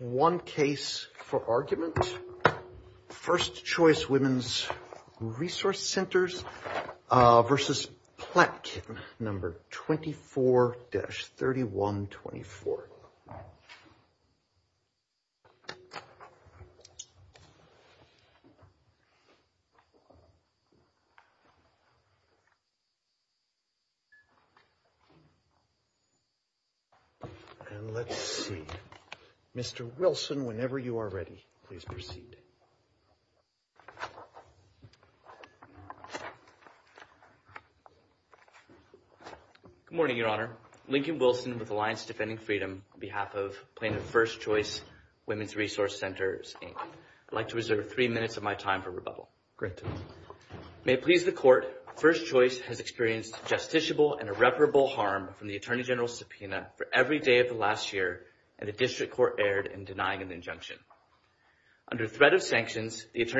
One Case for Argument, First Choice Womens Resource Centers v. Platt, No. 24-3124. And let's see. Mr. Wilson, whenever you are ready, please proceed. Good morning, Your Honor. Lincoln Wilson with Alliance Defending Freedom on behalf of Plaintiff's First Choice Womens Resource Centers, Inc. I'd like to reserve three minutes of my time for rebuttal. Great. May it please the Court, First Choice has experienced justiciable and irreparable harm from the Attorney General's subpoena for every day of the last year, and the District Attorney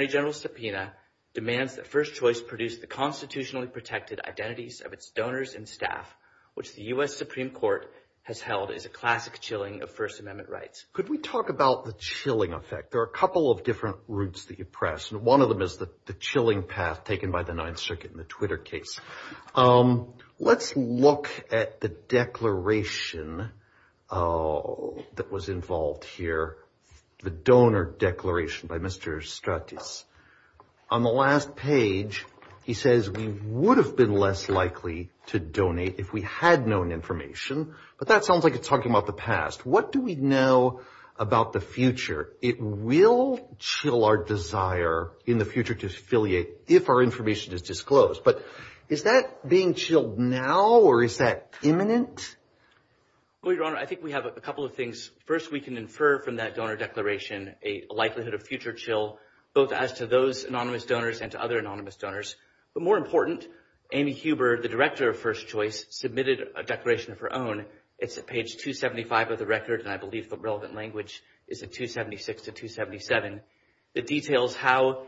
General's subpoena demands that First Choice produce the constitutionally protected identities of its donors and staff, which the U.S. Supreme Court has held is a classic chilling of First Amendment rights. Could we talk about the chilling effect? There are a couple of different routes that you press, and one of them is the chilling path taken by the Ninth Circuit in the Twitter case. Let's look at the declaration that was involved here, the donor declaration by Mr. Stratis. On the last page, he says we would have been less likely to donate if we had known information, but that sounds like it's talking about the past. What do we know about the future? It will chill our desire in the future to affiliate if our information is disclosed. But is that being chilled now, or is that imminent? Well, Your Honor, I think we have a couple of things. First, we can infer from that donor declaration a likelihood of future chill, both as to those anonymous donors and to other anonymous donors. But more important, Amy Huber, the director of First Choice, submitted a declaration of her own. It's at page 275 of the record, and I believe the relevant language is at 276 to 277. It details how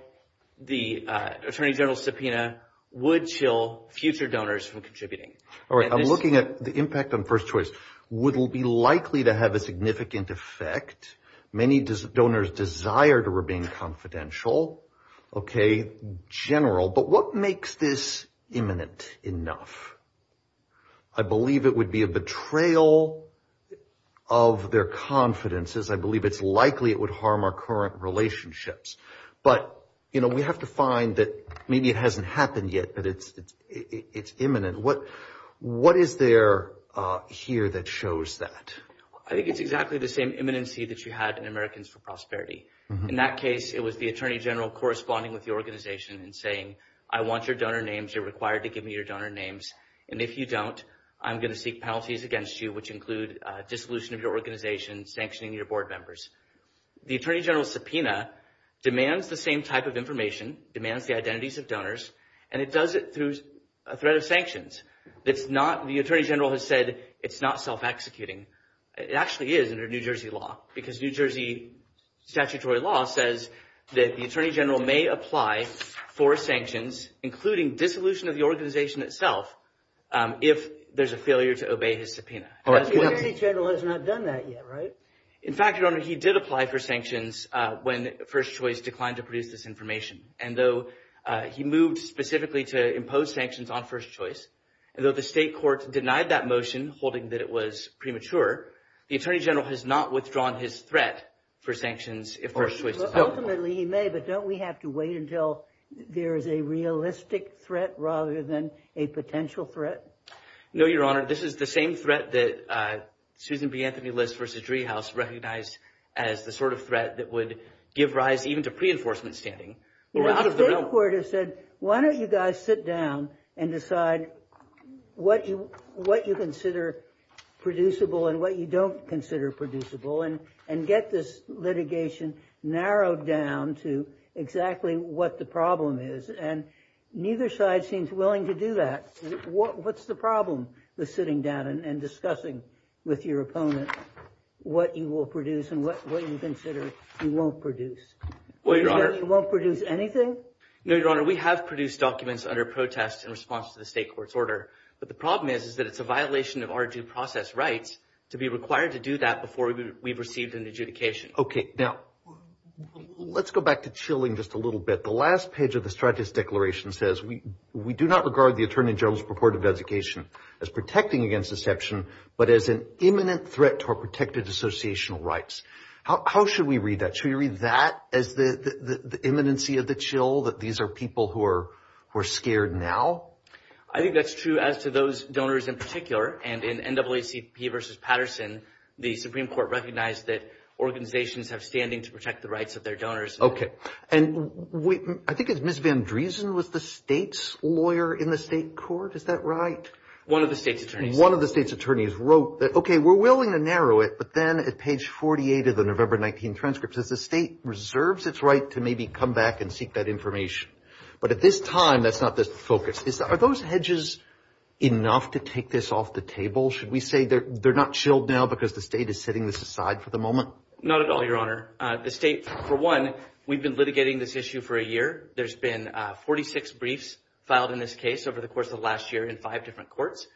the Attorney General's subpoena would chill future donors from contributing. All right, I'm looking at the impact on First Choice. Would it be likely to have a significant effect? Many donors desire to remain confidential, okay, general. But what makes this imminent enough? I believe it would be a betrayal of their confidences. I believe it's likely it would harm our current relationships. But, you know, we have to find that maybe it hasn't happened yet, but it's imminent. What is there here that shows that? I think it's exactly the same imminency that you had in Americans for Prosperity. In that case, it was the Attorney General corresponding with the organization and saying, I want your donor names, you're required to give me your donor names, and if you don't, I'm going to seek penalties against you, which include dissolution of your organization, sanctioning your board members. The Attorney General's subpoena demands the same type of information, demands the identities of donors, and it does it through a threat of sanctions. It's not, the Attorney General has said it's not self-executing. It actually is under New Jersey law, because New Jersey statutory law says that the Attorney General may apply for sanctions, including dissolution of the organization itself, if there's a failure to obey his subpoena. The Attorney General has not done that yet, right? In fact, your Honor, he did apply for sanctions when First Choice declined to produce this information, and though he moved specifically to impose sanctions on First Choice, and though the state court denied that motion, holding that it was premature, the Attorney General has not withdrawn his threat for sanctions if First Choice is held. Ultimately, he may, but don't we have to wait until there is a realistic threat rather than a potential threat? No, Your Honor, this is the same threat that Susan B. Anthony List versus Driehaus recognized as the sort of threat that would give rise even to pre-enforcement standing. The state court has said, why don't you guys sit down and decide what you consider producible and what you don't consider producible, and get this litigation narrowed down to exactly what the problem is, and neither side seems willing to do that. What's the problem with sitting down and discussing with your opponent what you will produce and what you consider you won't produce? You won't produce anything? No, Your Honor, we have produced documents under protest in response to the state court's order, but the problem is that it's a violation of our due process rights to be required to do that before we've received an adjudication. Okay, now, let's go back to chilling just a little bit. The last page of the Stratis Declaration says, we do not regard the Attorney General's purported designation as protecting against deception, but as an imminent threat to our protected associational rights. How should we read that? Should we read that as the imminency of the chill, that these are people who are scared now? I think that's true as to those donors in particular, and in NAACP versus Patterson, the Supreme Court recognized that organizations have standing to protect the rights of their donors. Okay, and I think it's Ms. Van Driessen was the state's lawyer in the state court, is that right? One of the state's attorneys. One of the state's attorneys wrote that, okay, we're willing to narrow it, but then at page 48 of the November 19 transcript says the state reserves its right to maybe come back and seek that information, but at this time, that's not the focus. Are those hedges enough to take this off the table? Should we say they're not chilled now because the state is setting this aside for the moment? Not at all, Your Honor. The state, for one, we've been litigating this issue for a year. There's been 46 briefs filed in this case over the course of last year in five different courts.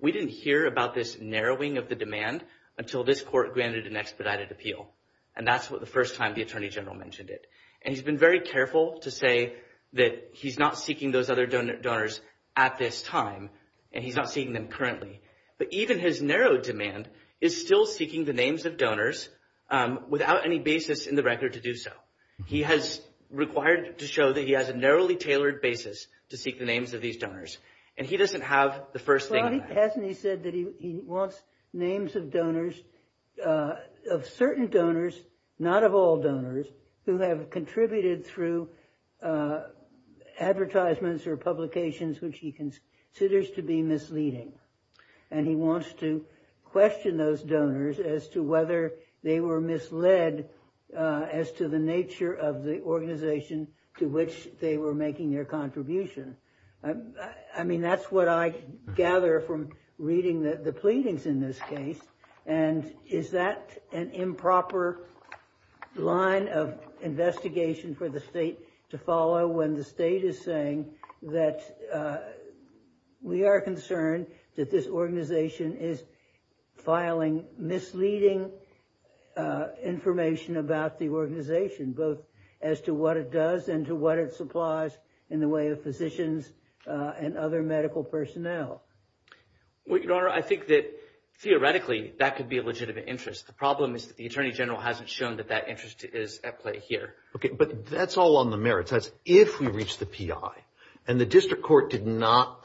We didn't hear about this narrowing of the demand until this court granted an expedited appeal, and that's what the first time the Attorney General mentioned it, and he's been very careful to say that he's not seeking those other donors at this time, and he's not seeing them currently, but even his narrow demand is still seeking the names of donors without any basis in the record to do so. He has required to show that he has a narrowly tailored basis to seek the names of these donors, and he doesn't have the first thing. Well, he hasn't. He said that he wants names of donors, of certain donors, not of all donors, who have contributed through advertisements or publications which he considers to be misleading, and he wants to question those donors as to whether they were misled as to the nature of the organization to which they were making their contribution. I mean, that's what I gather from reading the pleadings in this case, and is that an improper line of investigation for the state to follow when the state is saying that we are concerned that this organization is filing misleading information about the organization, both as to what it does and to what it supplies in the way of physicians and other medical personnel? Well, Your Honor, I think that theoretically that could be a legitimate interest. The problem is that the Attorney General hasn't shown that that interest is at play here. Okay, but that's all on the merits. That's if we reach the PI, and the District Court did not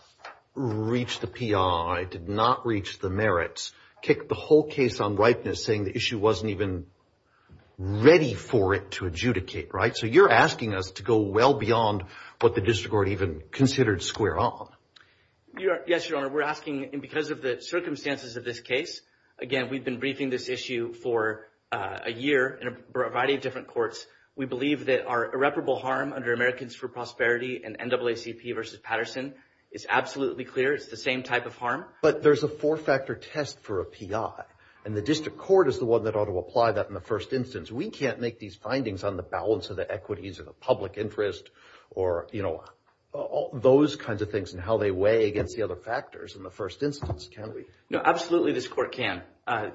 reach the PI, did not reach the merits, kicked the whole case on ripeness, saying the issue wasn't even ready for it to adjudicate, right? So you're asking us to go well beyond what the District Court even considered square on. Yes, Your Honor, we're asking, and because of the circumstances of this case, again, we've been briefing this issue for a year in a variety of different courts. We believe that our irreparable harm under Americans for Prosperity and NAACP versus Patterson is absolutely clear. It's the same type of harm. But there's a four-factor test for a PI, and the District Court is the one that ought to apply that in the first instance. We can't make these findings on the balance of the equities of the public interest or, you know, those kinds of things and how they weigh against the other factors in the first instance, can we? No, absolutely this court can.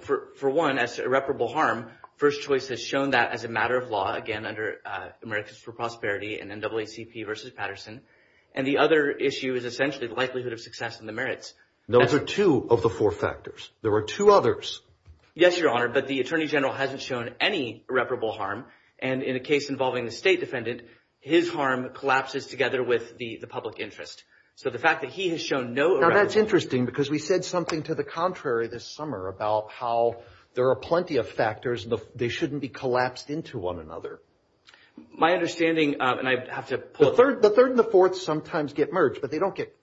For one, as irreparable harm, First Choice has shown that as a matter of law, again, under Americans for Prosperity and NAACP versus Patterson, and the other issue is essentially the likelihood of success in the two of the four factors. There are two others. Yes, Your Honor, but the Attorney General hasn't shown any irreparable harm, and in a case involving the State Defendant, his harm collapses together with the public interest. So the fact that he has shown no... Now, that's interesting because we said something to the contrary this summer about how there are plenty of factors, and they shouldn't be collapsed into one another. My understanding, and I have to... The third and the fourth sometimes get merged, but they don't get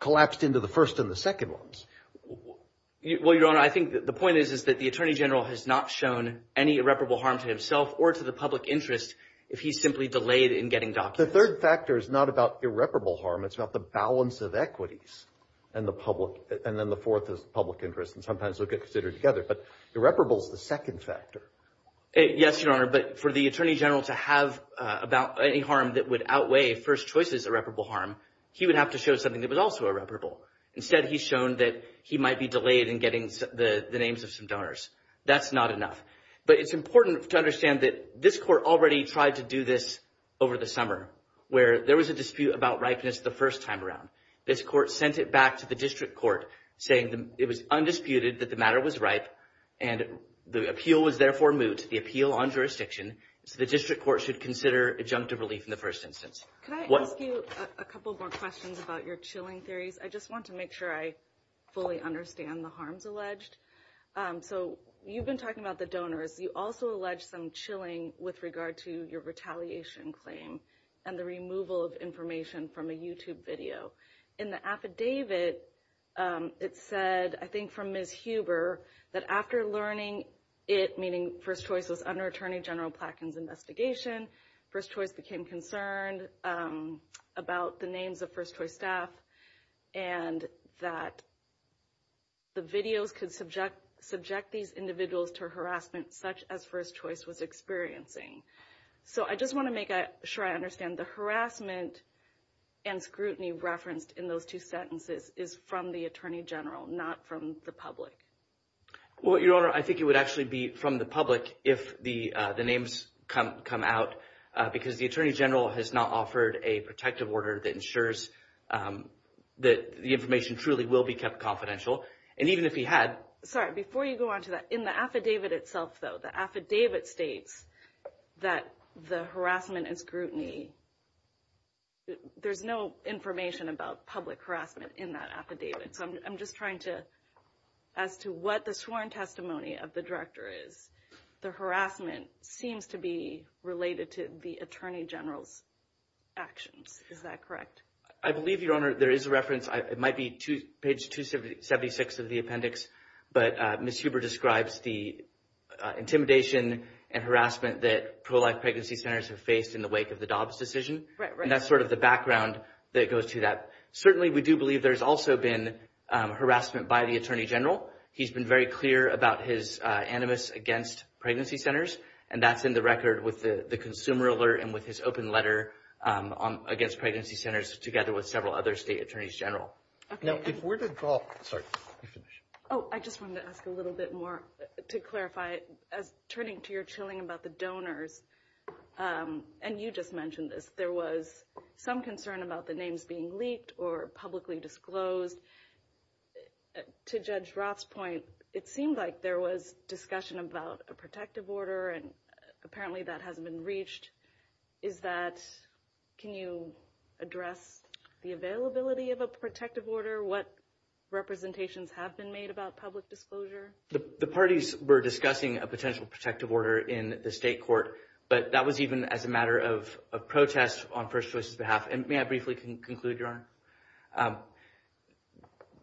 collapsed into the first and the second ones. Well, Your Honor, I think the point is, is that the Attorney General has not shown any irreparable harm to himself or to the public interest if he's simply delayed in getting documents. The third factor is not about irreparable harm. It's about the balance of equities and the public, and then the fourth is public interest, and sometimes they'll get considered together, but irreparable is the second factor. Yes, Your Honor, but for the Attorney General to have about any harm that would outweigh first choice's irreparable harm, he would have to show something that was also irreparable. Instead, he's shown that he might be delayed in getting the names of some donors. That's not enough, but it's important to understand that this Court already tried to do this over the summer where there was a dispute about ripeness the first time around. This Court sent it back to the District Court saying it was undisputed that the matter was ripe, and the appeal was therefore moot, the appeal on jurisdiction, so the District Court should consider adjunctive relief in the first instance. Can I ask you a couple more questions about your chilling theories? I just want to make sure I fully understand the harms alleged. So you've been talking about the donors. You also allege some chilling with regard to your retaliation claim and the removal of information from a YouTube video. In the affidavit, it said, I think from Ms. Huber, that after learning it, meaning first choice was under Attorney General Plattken's investigation, first choice became concerned about the names of first choice staff, and that the videos could subject these individuals to harassment such as first choice was experiencing. So I just want to make sure I understand the harassment and scrutiny referenced in those two sentences is from the Attorney General, not from the public? Well, Your Honor, I think it would actually be from the public if the names come out, because the Attorney General has not offered a protective order that ensures that the information truly will be kept confidential. And even if he had... Sorry, before you go on to that, in the affidavit itself though, the affidavit states that the harassment and scrutiny, there's no information about public harassment in that affidavit. So I'm just trying to, as to what the sworn testimony of the Director is, the harassment seems to be related to the Attorney General's actions. Is that correct? I believe, Your Honor, there is a reference, it might be page 276 of the appendix, but Ms. Huber describes the intimidation and harassment that pro-life pregnancy centers have faced in the wake of the Dobbs decision. And that's sort of the background that goes to that. Certainly, we do believe there's also been harassment by the Attorney General. He's been very clear about his animus against pregnancy centers, and that's in the record with the consumer alert and with his open letter against pregnancy centers together with several other State Attorneys General. Now, if we're to draw... Sorry. Oh, I just wanted to ask a little bit more to clarify, turning to your chilling about the donors, and you just mentioned this, there was some concern about the names being leaked or publicly disclosed. To Judge Roth's point, it seemed like there was discussion about a protective order, and apparently that hasn't been reached. Is that... Can you address the availability of a protective order? What representations have been made about public disclosure? The parties were discussing a potential protective order in the State Court, but that was even as a matter of protest on First Choice's behalf. And may I briefly conclude, Your Honor?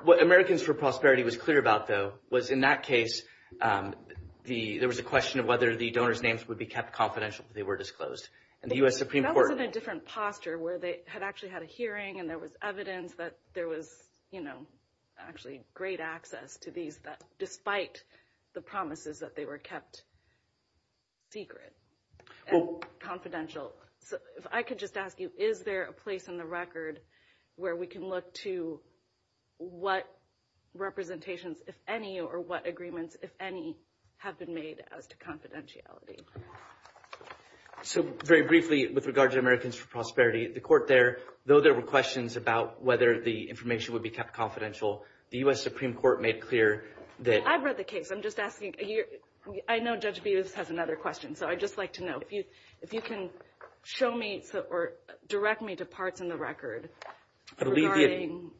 What Americans for Prosperity was clear about, though, was in that case, there was a question of whether the donors' names would be kept confidential if they were disclosed. And the U.S. Supreme Court- That was in a different posture, where they had actually had a hearing, and there was evidence that there was actually great access to these despite the promises that they were kept secret and confidential. So, if I could just ask you, is there a place on the record where we can look to what representations, if any, or what agreements, if any, have been made as to confidentiality? So, very briefly, with regard to Americans for Prosperity, the Court there, though there were questions about whether the information would be kept confidential, the U.S. Supreme Court made clear that- I've read the case. I'm just asking, I know Judge Bevis has another question. So, I'd just like to know if you can show me, or direct me to parts in the record regarding- I believe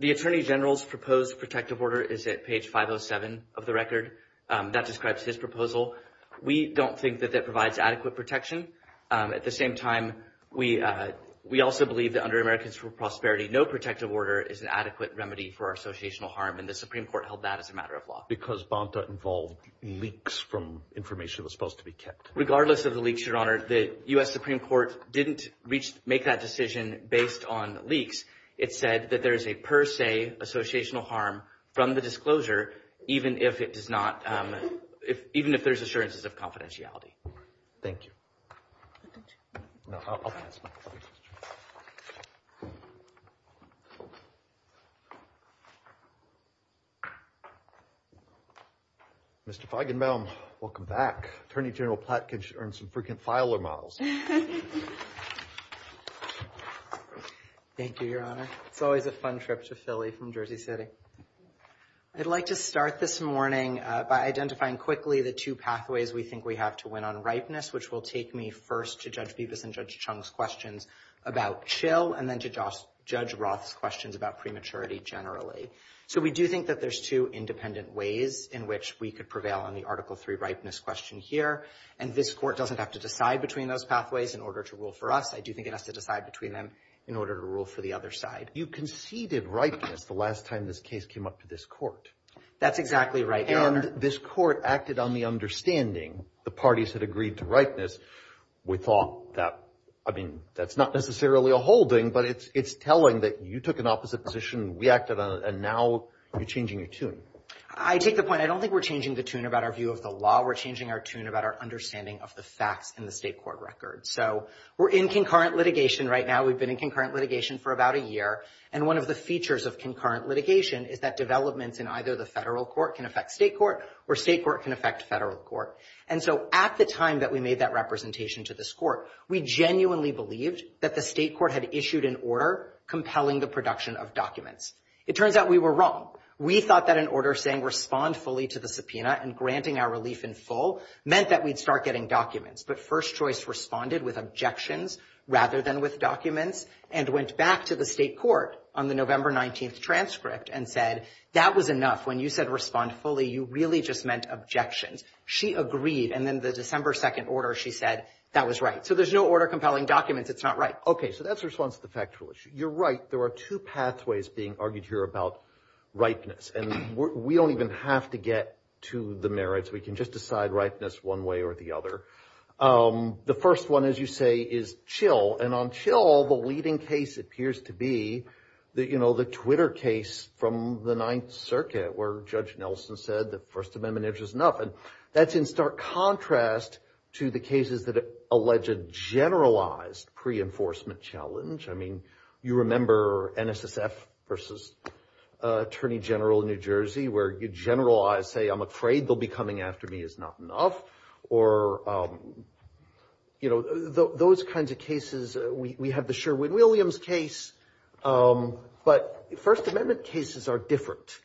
the Attorney General's proposed protective order is at page 507 of the record. That describes his proposal. We don't think that that provides adequate protection. At the same time, we also believe that under Americans for Prosperity, no protective order is an adequate remedy for our associational harm, and the Supreme involved leaks from information that's supposed to be kept. Regardless of the leaks, Your Honor, the U.S. Supreme Court didn't make that decision based on leaks. It said that there is a per se associational harm from the disclosure, even if it does not- even if there's assurances of confidentiality. Thank you. Mr. Feigenbaum, welcome back. Attorney General Platt can earn some frequent filer models. Thank you, Your Honor. It's always a fun trip to Philly from Jersey City. I'd like to start this morning by identifying quickly the two pathways we think we have to win on ripeness, which will take me first to Judge Bibas and Judge Chung's questions about chill, and then to Judge Roth's questions about prematurity generally. So, we do think that there's two independent ways in which we could prevail on the Article 3 ripeness question here, and this Court doesn't have to decide between those pathways in order to rule for us. I do think it has to decide between them in order to rule for the other side. You conceded ripeness the last time this case came up to this Court. That's exactly right, Your Honor. And this Court acted on the understanding. The parties had agreed to ripeness. We thought that, I mean, that's not necessarily a holding, but it's telling that you took an opposite position, we acted on it, and now you're changing your tune. I take the point. I don't think we're changing the tune about our view of the law. We're changing our tune about our understanding of the facts in the state court record. So, we're in concurrent litigation for about a year, and one of the features of concurrent litigation is that developments in either the federal court can affect state court, or state court can affect federal court. And so, at the time that we made that representation to this Court, we genuinely believed that the state court had issued an order compelling the production of documents. It turns out we were wrong. We thought that an order saying respond fully to the subpoena and granting our relief in full meant that we'd start getting documents, but First Choice responded with objections rather than with documents, and went back to the state court on the November 19th transcript and said, that was enough. When you said respond fully, you really just meant objections. She agreed, and then the December 2nd order, she said, that was right. So, there's no order compelling documents. It's not right. Okay. So, that's a response to the factual issue. You're right. There are two pathways being argued here about ripeness, and we don't even have to get to the merits. We can just decide ripeness one way or the other. The first one, as you say, is chill, and on chill, the leading case appears to be the, you know, the Twitter case from the Ninth Circuit, where Judge Nelson said that First Amendment issues nothing. That's in stark contrast to the cases that allege a generalized pre-enforcement challenge. I mean, you remember NSSF versus Attorney General of New Jersey, where you generalize, say, I'm afraid they'll be coming after me is not enough, or, you know, those kinds of cases. We have the Sherwin-Williams case, but First Amendment cases are different,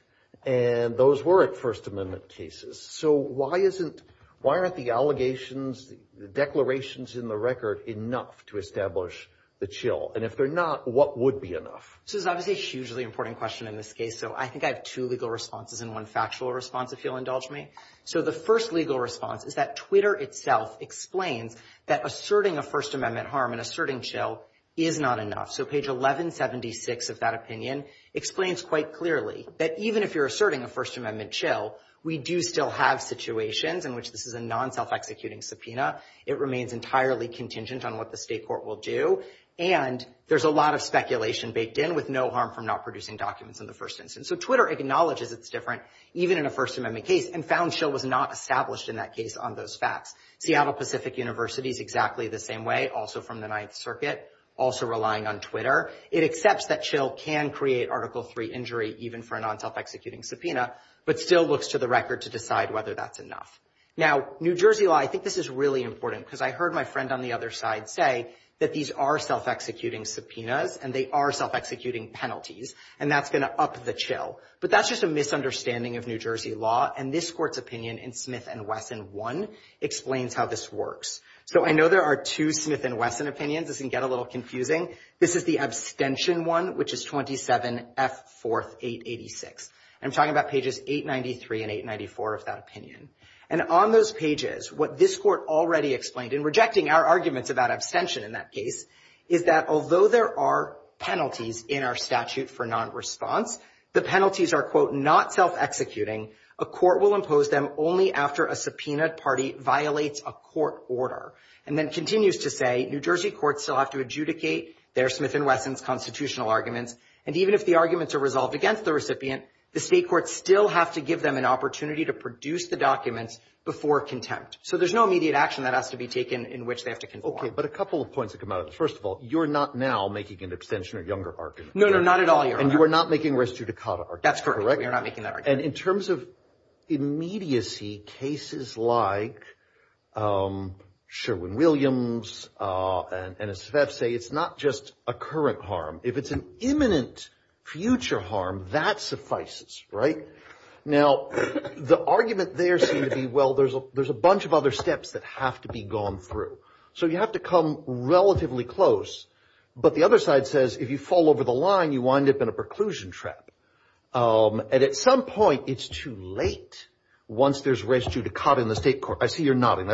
and those weren't First Amendment cases. So, why isn't, why aren't the allegations, the declarations in the record enough to establish the chill? And if they're not, what would be enough? This is obviously a hugely important question in this case, so I think I have two legal responses and one factual response, if you'll indulge me. So, the first legal response is that Twitter itself explains that asserting a First Amendment harm and asserting chill is not enough. So, page 1176 of that opinion explains quite clearly that even if you're asserting a First Amendment chill, we do still have situations in which this is a non-self-executing subpoena. It remains entirely contingent on what the state court will do, and there's a lot of speculation baked in, with no harm from not producing documents in the first instance. So, Twitter acknowledges it's different, even in a First Amendment case, and found chill was not established in that case on those facts. Seattle Pacific University is exactly the same way, also from the Ninth Circuit, also relying on Twitter. It accepts that chill can create Article III injury, even for a non-self-executing subpoena, but still looks to the record to decide whether that's enough. Now, New Jersey law, I think this is really important, because I heard my friend on the other side say that these are self-executing subpoenas, and they are self-executing penalties, and that's going to up the chill. But that's just a misunderstanding of New Jersey law, and this Court's opinion in Smith & Wesson 1 explains how this works. So, I know there are two Smith & Wesson opinions. This can get a little confusing. This is the abstention one, which is 27F4886, and I'm talking about pages 893 and 894 of that opinion. And on those pages, what this Court already explained, and rejecting our arguments about abstention in that case, is that although there are penalties in our statute for non-response, the penalties are, quote, not self-executing. A court will impose them only after a subpoenaed party violates a court order, and then continues to say New Jersey courts still have to adjudicate their Smith & Wesson's constitutional arguments, and even if the arguments are resolved against the recipient, the state courts still have to give them an opportunity to produce the documents before contempt. So, there's no immediate action that has to be taken in which they have to conform. Okay, but a couple of points that come out of this. First of all, you're not now making an abstention or younger argument. No, no, not at all, Your Honor. And you are not making res judicata arguments, correct? That's correct. We are not making that argument. And in terms of immediacy, cases like Sherwin-Williams and Esfeth say it's not just a current harm. If it's an imminent future harm, that suffices, right? Now, the argument there seems to be, well, there's a bunch of other steps that have to be gone through. So, you have to come relatively close, but the other side says, if you fall over the line, you wind up in a preclusion trap. And at some point, it's too late once there's res judicata in the state court. I see you're nodding.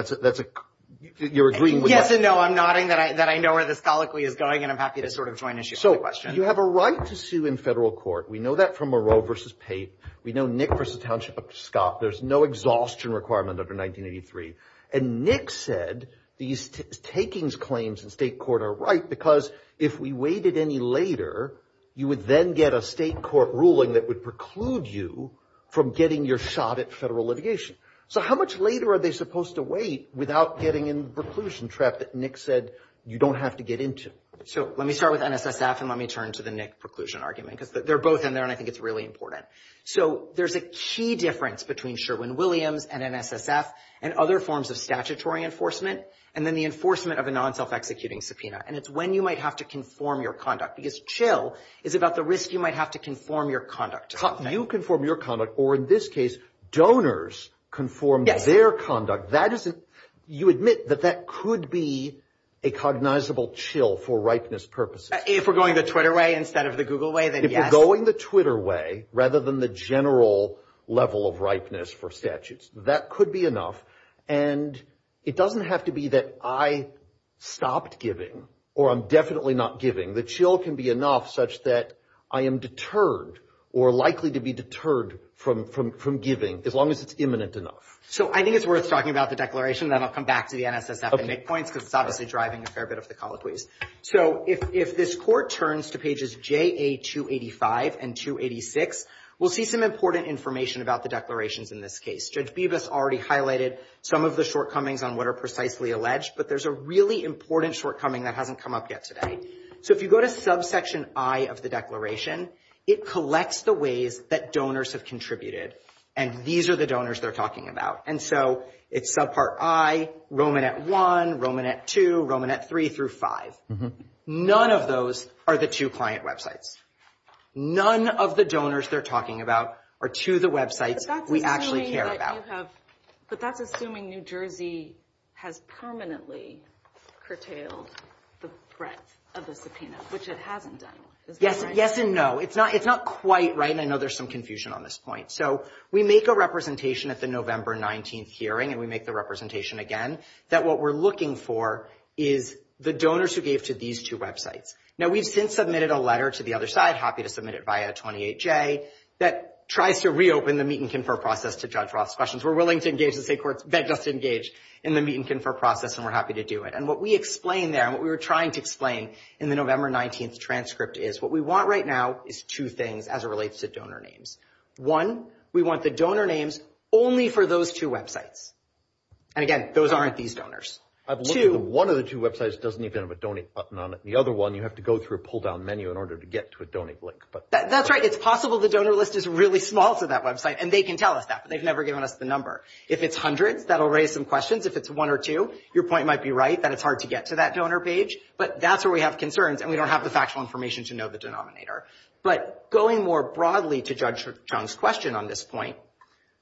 You're agreeing with that. Yes and no. I'm nodding that I know where the scholicly is going, and I'm happy to sort of join issues with the question. You have a right to sue in federal court. We know that from Moreau versus Pate. We know Nick versus Township versus Scott. There's no exhaustion requirement under 1983. And Nick said these takings claims in state court are right, because if we waited any later, you would then get a state court ruling that would preclude you from getting your shot at federal litigation. So, how much later are they supposed to wait without getting in the preclusion trap that Nick said you don't have to get into? So, let me start with NSSF, and let me turn to the Nick preclusion argument, because they're both in there, and I think it's really important. So, there's a key difference between Sherwin-Williams and NSSF and other forms of statutory enforcement, and then the enforcement of a non-self-executing subpoena. And it's when you might have to conform your conduct, because chill is about the risk you might have to conform your conduct. You conform your conduct, or in this case, donors conform their conduct. You admit that that could be a cognizable chill for ripeness purposes. If we're going the Twitter way instead of the Google way, then yes. If we're going the Twitter way rather than the general level of ripeness for statutes, that could be enough. And it doesn't have to be that I stopped giving, or I'm definitely not giving. The chill can be enough such that I am deterred or likely to be deterred from giving, as long as it's imminent enough. So, I think it's worth talking about the declaration, then I'll come back to the NSSF and points, because it's obviously driving a fair bit of the colloquies. So, if this court turns to pages JA-285 and 286, we'll see some important information about the declarations in this case. Judge Bibas already highlighted some of the shortcomings on what are precisely alleged, but there's a really important shortcoming that hasn't come up yet today. So, if you go to subsection I of the declaration, it collects the ways that donors have contributed, and these are the donors they're talking about. And so, it's subpart I, Romanet I, Romanet II, Romanet III through V. None of those are the two client websites. None of the donors they're talking about are to the websites we actually care about. But that's assuming New Jersey has permanently curtailed the threat of the subpoena, which it hasn't done, is that right? Yes and no. It's not quite right, and I know there's some confusion on this point. So, we make a representation at the November 19th hearing, and we make the representation again, that what we're looking for is the donors who gave to these two websites. Now, we've since submitted a letter to the other side, happy to submit it via 28J, that tries to reopen the meet and confer process to Judge Roth's questions. We're willing to engage the state courts, beg us to engage in the meet and confer process, and we're happy to do it. And what we explain there, and what we were trying to explain in the November 19th transcript is, what we want right now is two things as it relates to donor names. One, we want the donor names only for those two websites. And again, those aren't these donors. I believe one of the two websites doesn't even have a donate button on it. The other one, you have to go through a pull-down menu in order to get to a donate link. That's right. It's possible the donor list is really small to that website, and they can tell us that, but they've never given us the number. If it's hundreds, that'll raise some questions. If it's one or two, your point might be right, that it's hard to get to that donor page. But that's where we have concerns, and we don't have the factual information to know the denominator. But going more broadly to Judge Chung's question on this point,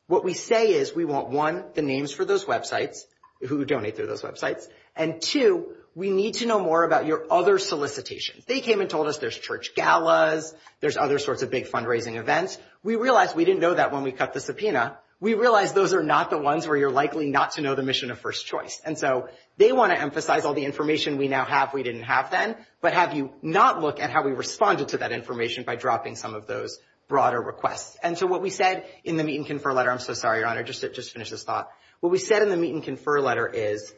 what we say is we want, one, the names for those websites, who donate through those websites. And two, we need to know more about your other solicitations. They came and told us there's church galas, there's other sorts of big fundraising events. We realized we didn't know that when we cut the subpoena. We realized those are not the ones where you're likely not to know the mission of first choice. And so they want to emphasize all the information we now have we didn't have then, but have you not look at how we responded to that information by dropping some of those broader requests. And so what we said in the meet and confer letter, I'm so sorry, Your Honor, just to finish this thought, what we said in the meet and confer letter is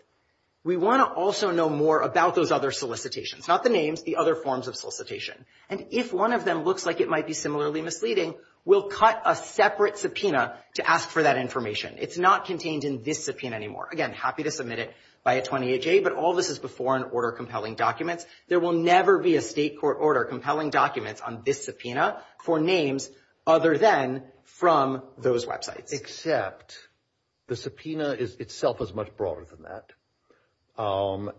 we want to also know more about those other solicitations, not the names, the other forms of solicitation. And if one of them looks like it might be similarly misleading, we'll cut a separate subpoena to ask for that information. It's not contained in this subpoena anymore. Again, happy to submit it by a 28-J, but all this is before an order compelling documents. There will never be a state court order compelling documents on this subpoena for names other than from those websites. Except the subpoena itself is much broader than that.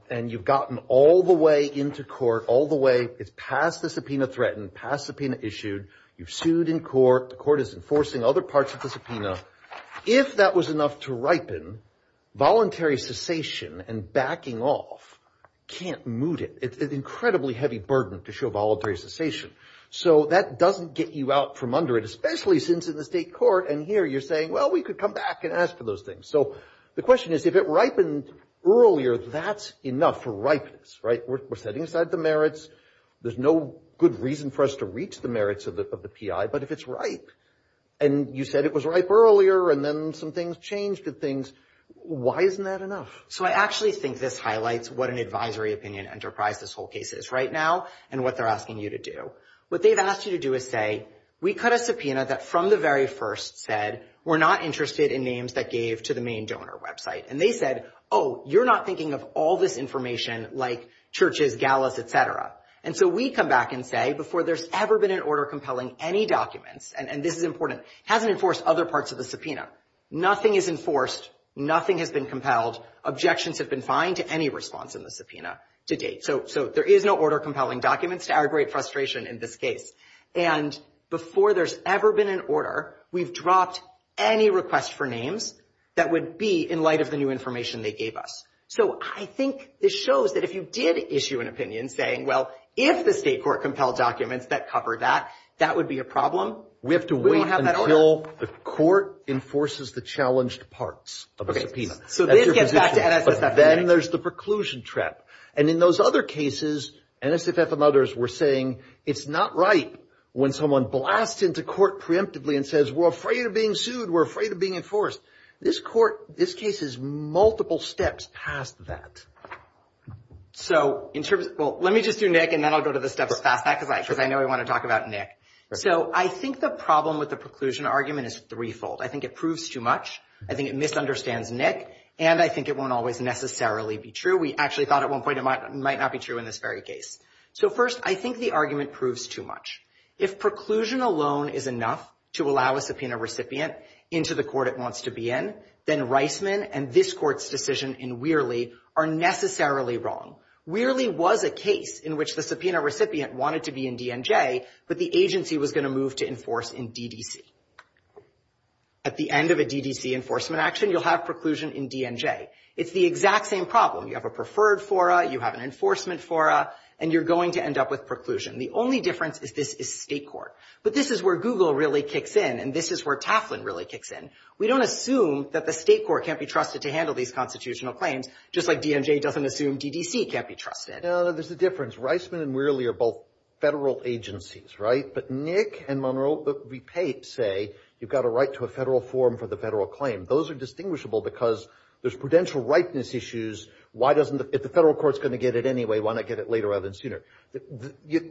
And you've gotten all the way into court, all the way it's past the subpoena threatened, past subpoena issued, you've sued in court, the court enforcing other parts of the subpoena. If that was enough to ripen, voluntary cessation and backing off can't moot it. It's an incredibly heavy burden to show voluntary cessation. So that doesn't get you out from under it, especially since in the state court and here you're saying, well, we could come back and ask for those things. So the question is, if it ripened earlier, that's enough for ripeness, right? We're setting aside the merits. There's no good reason for us to reach the merits of the PI, but if it's ripe and you said it was ripe earlier and then some things changed to things, why isn't that enough? So I actually think this highlights what an advisory opinion enterprise this whole case is right now and what they're asking you to do. What they've asked you to do is say, we cut a subpoena that from the very first said, we're not interested in names that gave to the main donor website. And they said, oh, you're not thinking of all this information like churches, galas, et cetera. And so we come back and say, before there's ever been an order compelling any documents, and this is important, it hasn't enforced other parts of the subpoena. Nothing is enforced. Nothing has been compelled. Objections have been fine to any response in the subpoena to date. So there is no order compelling documents to aggravate frustration in this case. And before there's ever been an order, we've dropped any request for names that would be in information they gave us. So I think this shows that if you did issue an opinion saying, well, if the state court compelled documents that covered that, that would be a problem. We have to wait until the court enforces the challenged parts of the subpoena. So this gets back to NSSF. Then there's the preclusion trap. And in those other cases, NSSF and others were saying, it's not right when someone blasts into court preemptively and says, we're afraid of being multiple steps past that. So in terms of, well, let me just do Nick, and then I'll go to the steps past that, because I know we want to talk about Nick. So I think the problem with the preclusion argument is threefold. I think it proves too much. I think it misunderstands Nick. And I think it won't always necessarily be true. We actually thought at one point it might not be true in this very case. So first, I think the argument proves too much. If preclusion alone is enough to allow a subpoena recipient into the court it wants to be in, then Reisman and this court's decision in Weerly are necessarily wrong. Weerly was a case in which the subpoena recipient wanted to be in DNJ, but the agency was going to move to enforce in DDC. At the end of a DDC enforcement action, you'll have preclusion in DNJ. It's the exact same problem. You have a preferred fora, you have an enforcement fora, and you're going to end up with preclusion. The only difference is this is state court. But this is where Google really kicks in, and this is where Taflin really kicks in. We don't assume that the state court can't be trusted to handle these constitutional claims, just like DNJ doesn't assume DDC can't be trusted. No, there's a difference. Reisman and Weerly are both federal agencies, right? But Nick and Monroe say you've got a right to a federal forum for the federal claim. Those are distinguishable because there's prudential rightness issues. Why doesn't the, if the federal court's going to get it anyway, why not get it later rather than sooner?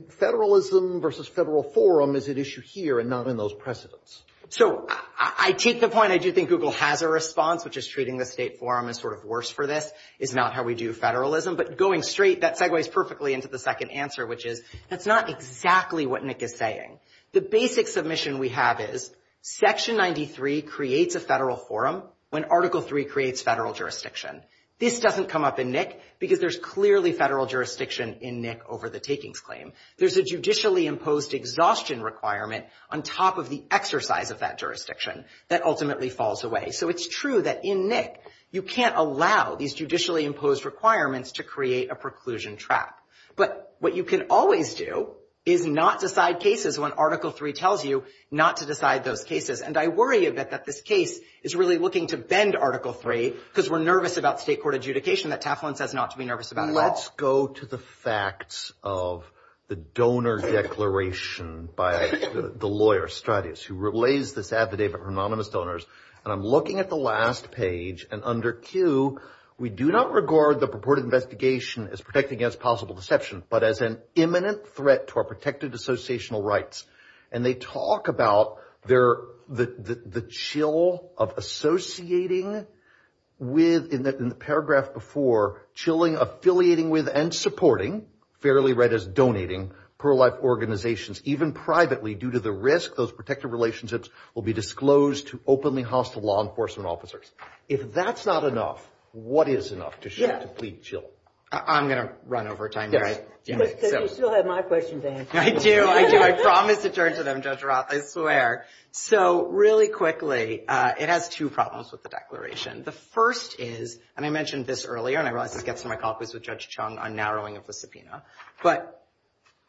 Federalism versus federal forum is an issue here and not in those precedents. So I take the point, I do think Google has a response, which is treating the state forum as sort of worse for this, is not how we do federalism. But going straight, that segues perfectly into the second answer, which is that's not exactly what Nick is saying. The basic submission we have is Section 93 creates a federal forum when Article 3 creates federal jurisdiction. This doesn't come up in Nick because there's clearly federal jurisdiction in Nick over the takings claim. There's a judicially imposed exhaustion requirement on top of the exercise of that jurisdiction that ultimately falls away. So it's true that in Nick, you can't allow these judicially imposed requirements to create a preclusion trap. But what you can always do is not decide cases when Article 3 tells you not to decide those cases. And I worry a bit that this case is really looking to bend Article 3 because we're nervous about state court adjudication that Taflin says not to be nervous about at all. Let's go to the facts of the donor declaration by the lawyer, Stratis, who relays this affidavit for anonymous donors. And I'm looking at the last page. And under Q, we do not regard the purported investigation as protecting against possible deception, but as an imminent threat to our protected associational rights. And they talk about the chill of associating with, in the paragraph before, chilling, affiliating with, and supporting, fairly read as donating, pro-life organizations, even privately, due to the risk those protected relationships will be disclosed to openly hostile law enforcement officers. If that's not enough, what is enough to show complete chill? I'm going to run over time. Yes, because you still have my question to answer. I do, I do. I promise to turn to them, Judge Roth, I swear. So really quickly, it has two problems with the declaration. The first is, and I mentioned this earlier, and I realize this gets in my copies with Judge Chung on narrowing of the subpoena, but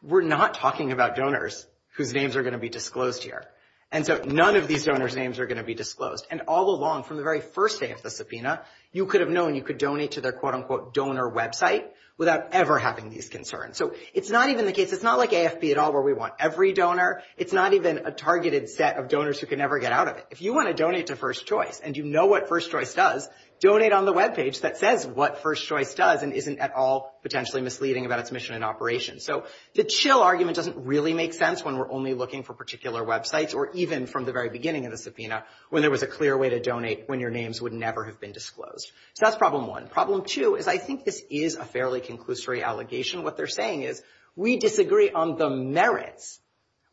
we're not talking about donors whose names are going to be disclosed here. And so none of these donors' names are going to be disclosed. And all along, from the very first day of the subpoena, you could have known you could donate to their quote-unquote donor website without ever having these concerns. So it's not even the case, it's not like AFB at all, where we want every donor. It's not even a targeted set of donors who can never get out of it. If you want to donate to First Choice, and you know what First Choice does, donate on the webpage that says what First Choice does and isn't at all potentially misleading about its mission and operation. So the chill argument doesn't really make sense when we're only looking for particular websites or even from the very beginning of the subpoena, when there was a clear way to donate when your names would never have been disclosed. So that's problem one. Problem two is I think this is a fairly conclusory allegation. What they're saying is we disagree on the merits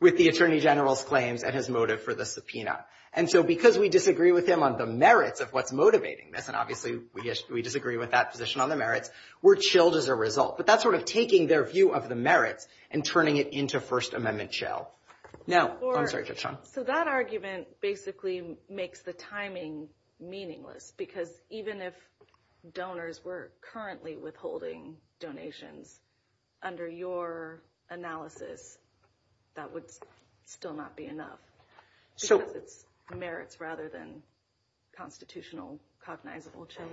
with the Attorney General's claims and his motive for the subpoena. And so because we disagree with him on the merits of what's motivating this, and obviously we disagree with that position on the merits, we're chilled as a result. But that's sort of taking their view of the merits and turning it into First Amendment chill. Now, I'm sorry, Ketchum. So that argument basically makes the timing meaningless because even if donors were currently withholding donations under your analysis, that would still not be enough. Because it's merits rather than constitutional, cognizable chill.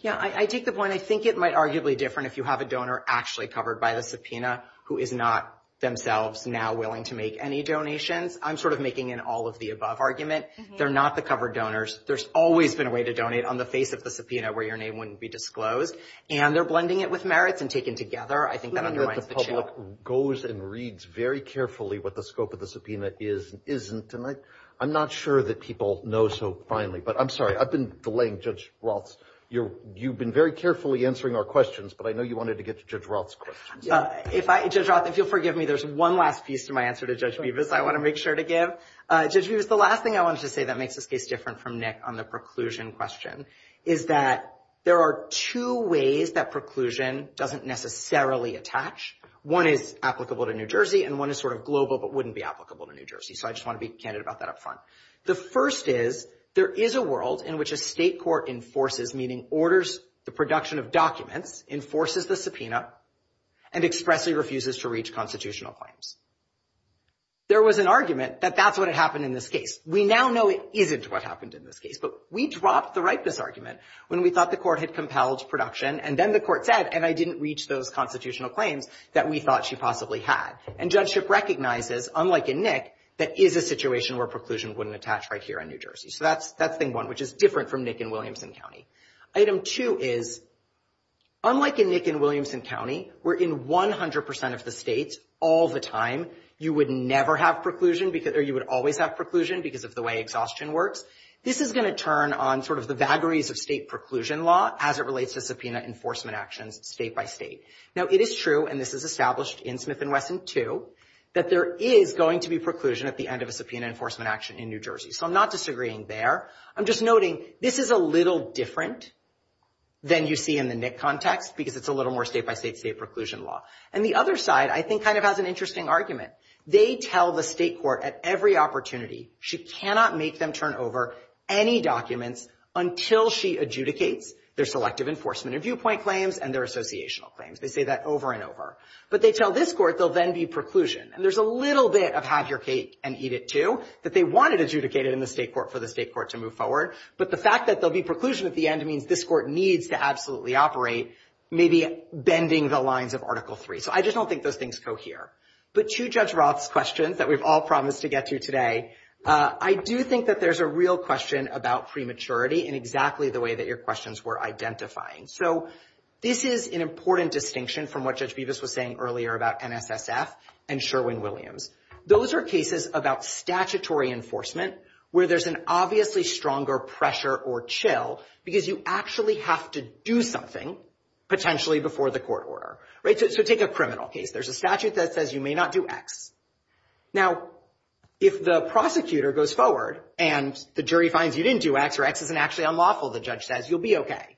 Yeah, I take the point. I think it might arguably different if you have a donor actually covered by the subpoena who is not themselves now willing to make any donations. I'm sort of making an all of the above argument. They're not the covered donors. There's always been a way to donate on the face of the subpoena where your name wouldn't be disclosed. And they're blending it with merits and taken together. I think that underlines the chill. The public goes and reads very carefully what the scope of the subpoena is and isn't. And I'm not sure that people know so finely. But I'm sorry, I've been delaying Judge Roth's. You've been very carefully answering our questions, but I know you wanted to get to Judge Roth's questions. Judge Roth, if you'll forgive me, there's one last piece to my answer to Judge Beavis I want to make sure to give. Judge Beavis, the last thing I wanted to say that makes this case different from Nick on the preclusion question is that there are two ways that preclusion doesn't necessarily attach. One is applicable to New Jersey and one is sort of global but wouldn't be applicable to New Jersey. So I just want to be candid about that up front. The first is there is a world in which a state court enforces, meaning orders the production of documents, enforces the subpoena and expressly refuses to reach constitutional claims. There was an argument that that's what had happened in this case. We now know it isn't what happened in this case. But we dropped the rightness argument when we thought the court had compelled production. And then the court said, and I didn't reach those constitutional claims that we thought she possibly had. And judgeship recognizes, unlike in Nick, that is a situation where preclusion wouldn't attach right here in New Jersey. So that's thing one, which is different from Nick in Williamson County. Item two is, unlike in Nick in Williamson County, we're in 100% of the states all the time. You would never have preclusion or you would always have preclusion because of the way exhaustion works. This is going to turn on sort of the vagaries of state preclusion law as it relates to subpoena enforcement actions state by state. Now it is true, and this is established in Smith and Wesson too, that there is going to be preclusion at the end of a subpoena enforcement action in New Jersey. So I'm not disagreeing there. I'm just noting this is a little different than you see in the Nick context because it's a little more state by state state preclusion law. And the other side, I think kind of has an interesting argument. They tell the state court at every opportunity she cannot make them turn over any documents until she adjudicates their selective enforcement and viewpoint claims and their associational claims. They say that over and over. But they tell this court they'll then be preclusion. And there's a little bit of have your cake and eat it too that they wanted adjudicated in the state court for the state court to move forward. But the fact that there'll be preclusion at the end means this court needs to absolutely operate, maybe bending the lines of Article III. So I just don't think those things cohere. But to Judge Roth's questions that we've all promised to get to today, I do think that there's a real question about prematurity in exactly the way that your questions were identifying. So this is an important distinction from what Judge Bevis was saying earlier about NSSF and Sherwin-Williams. Those are cases about statutory enforcement where there's an obviously stronger pressure or chill because you actually have to do something potentially before the court order, right? So take a criminal case. There's a statute that says you may not do X. Now, if the prosecutor goes forward and the jury finds you didn't do X or X isn't actually unlawful, the judge says, you'll be okay.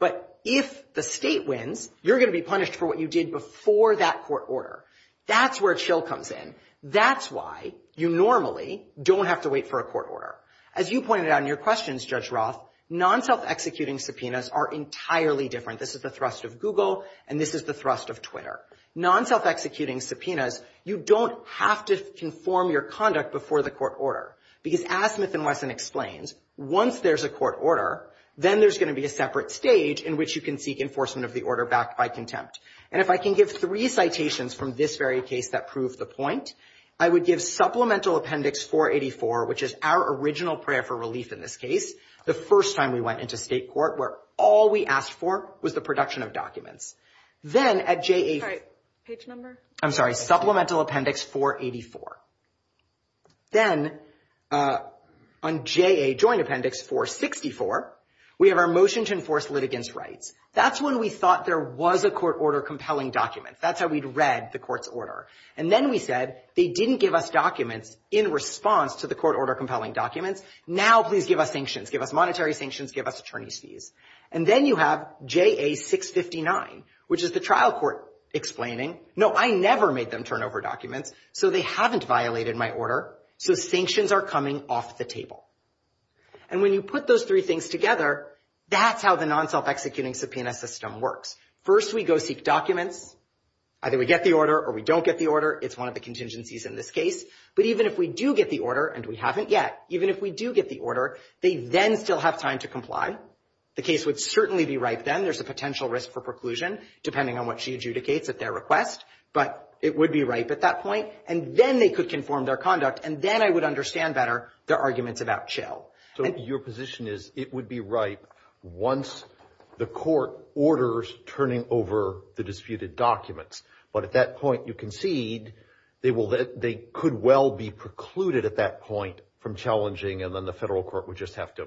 But if the state wins, you're gonna be punished for what you did before that court order. That's where chill comes in. That's why you normally don't have to wait for a court order. As you pointed out in your questions, Judge Roth, non-self-executing subpoenas are entirely different. This is the thrust of Google and this is the thrust of Twitter. Non-self-executing subpoenas, you don't have to conform your conduct before the court order because as Smith and Wesson explains, once there's a court order, then there's gonna be a separate stage in which you can seek enforcement of the order backed by contempt. And if I can give three citations from this very case that prove the point, I would give Supplemental Appendix 484, which is our original prayer for relief in this case, the first time we went into state court, where all we asked for was the production of documents. Then at JA- Sorry, page number? I'm sorry, Supplemental Appendix 484. Then on JA Joint Appendix 464, we have our motion to enforce litigants' rights. That's when we thought there was a court order compelling document. That's how we'd read the court's order. And then we said, they didn't give us documents in response to the court order compelling documents. Now, please give us sanctions, give us monetary sanctions, give us attorney's fees. And then you have JA-659, which is the trial court explaining, no, I never made them turn over documents, so they haven't violated my order. So sanctions are coming off the table. And when you put those three things together, that's how the non-self-executing subpoena system works. First, we go seek documents. Either we get the order or we don't get the order. It's one of the contingencies in this case. But even if we do get the order, and we haven't yet, even if we do get the order, they then still have time to comply. The case would certainly be ripe then. There's a potential risk for preclusion, depending on what she adjudicates at their request. But it would be ripe at that point. And then they could conform their conduct. And then I would understand better their arguments about chill. So your position is it would be ripe once the court orders turning over the disputed documents. But at that point, you concede they could well be precluded at that point from challenging, and then the federal court would just have to,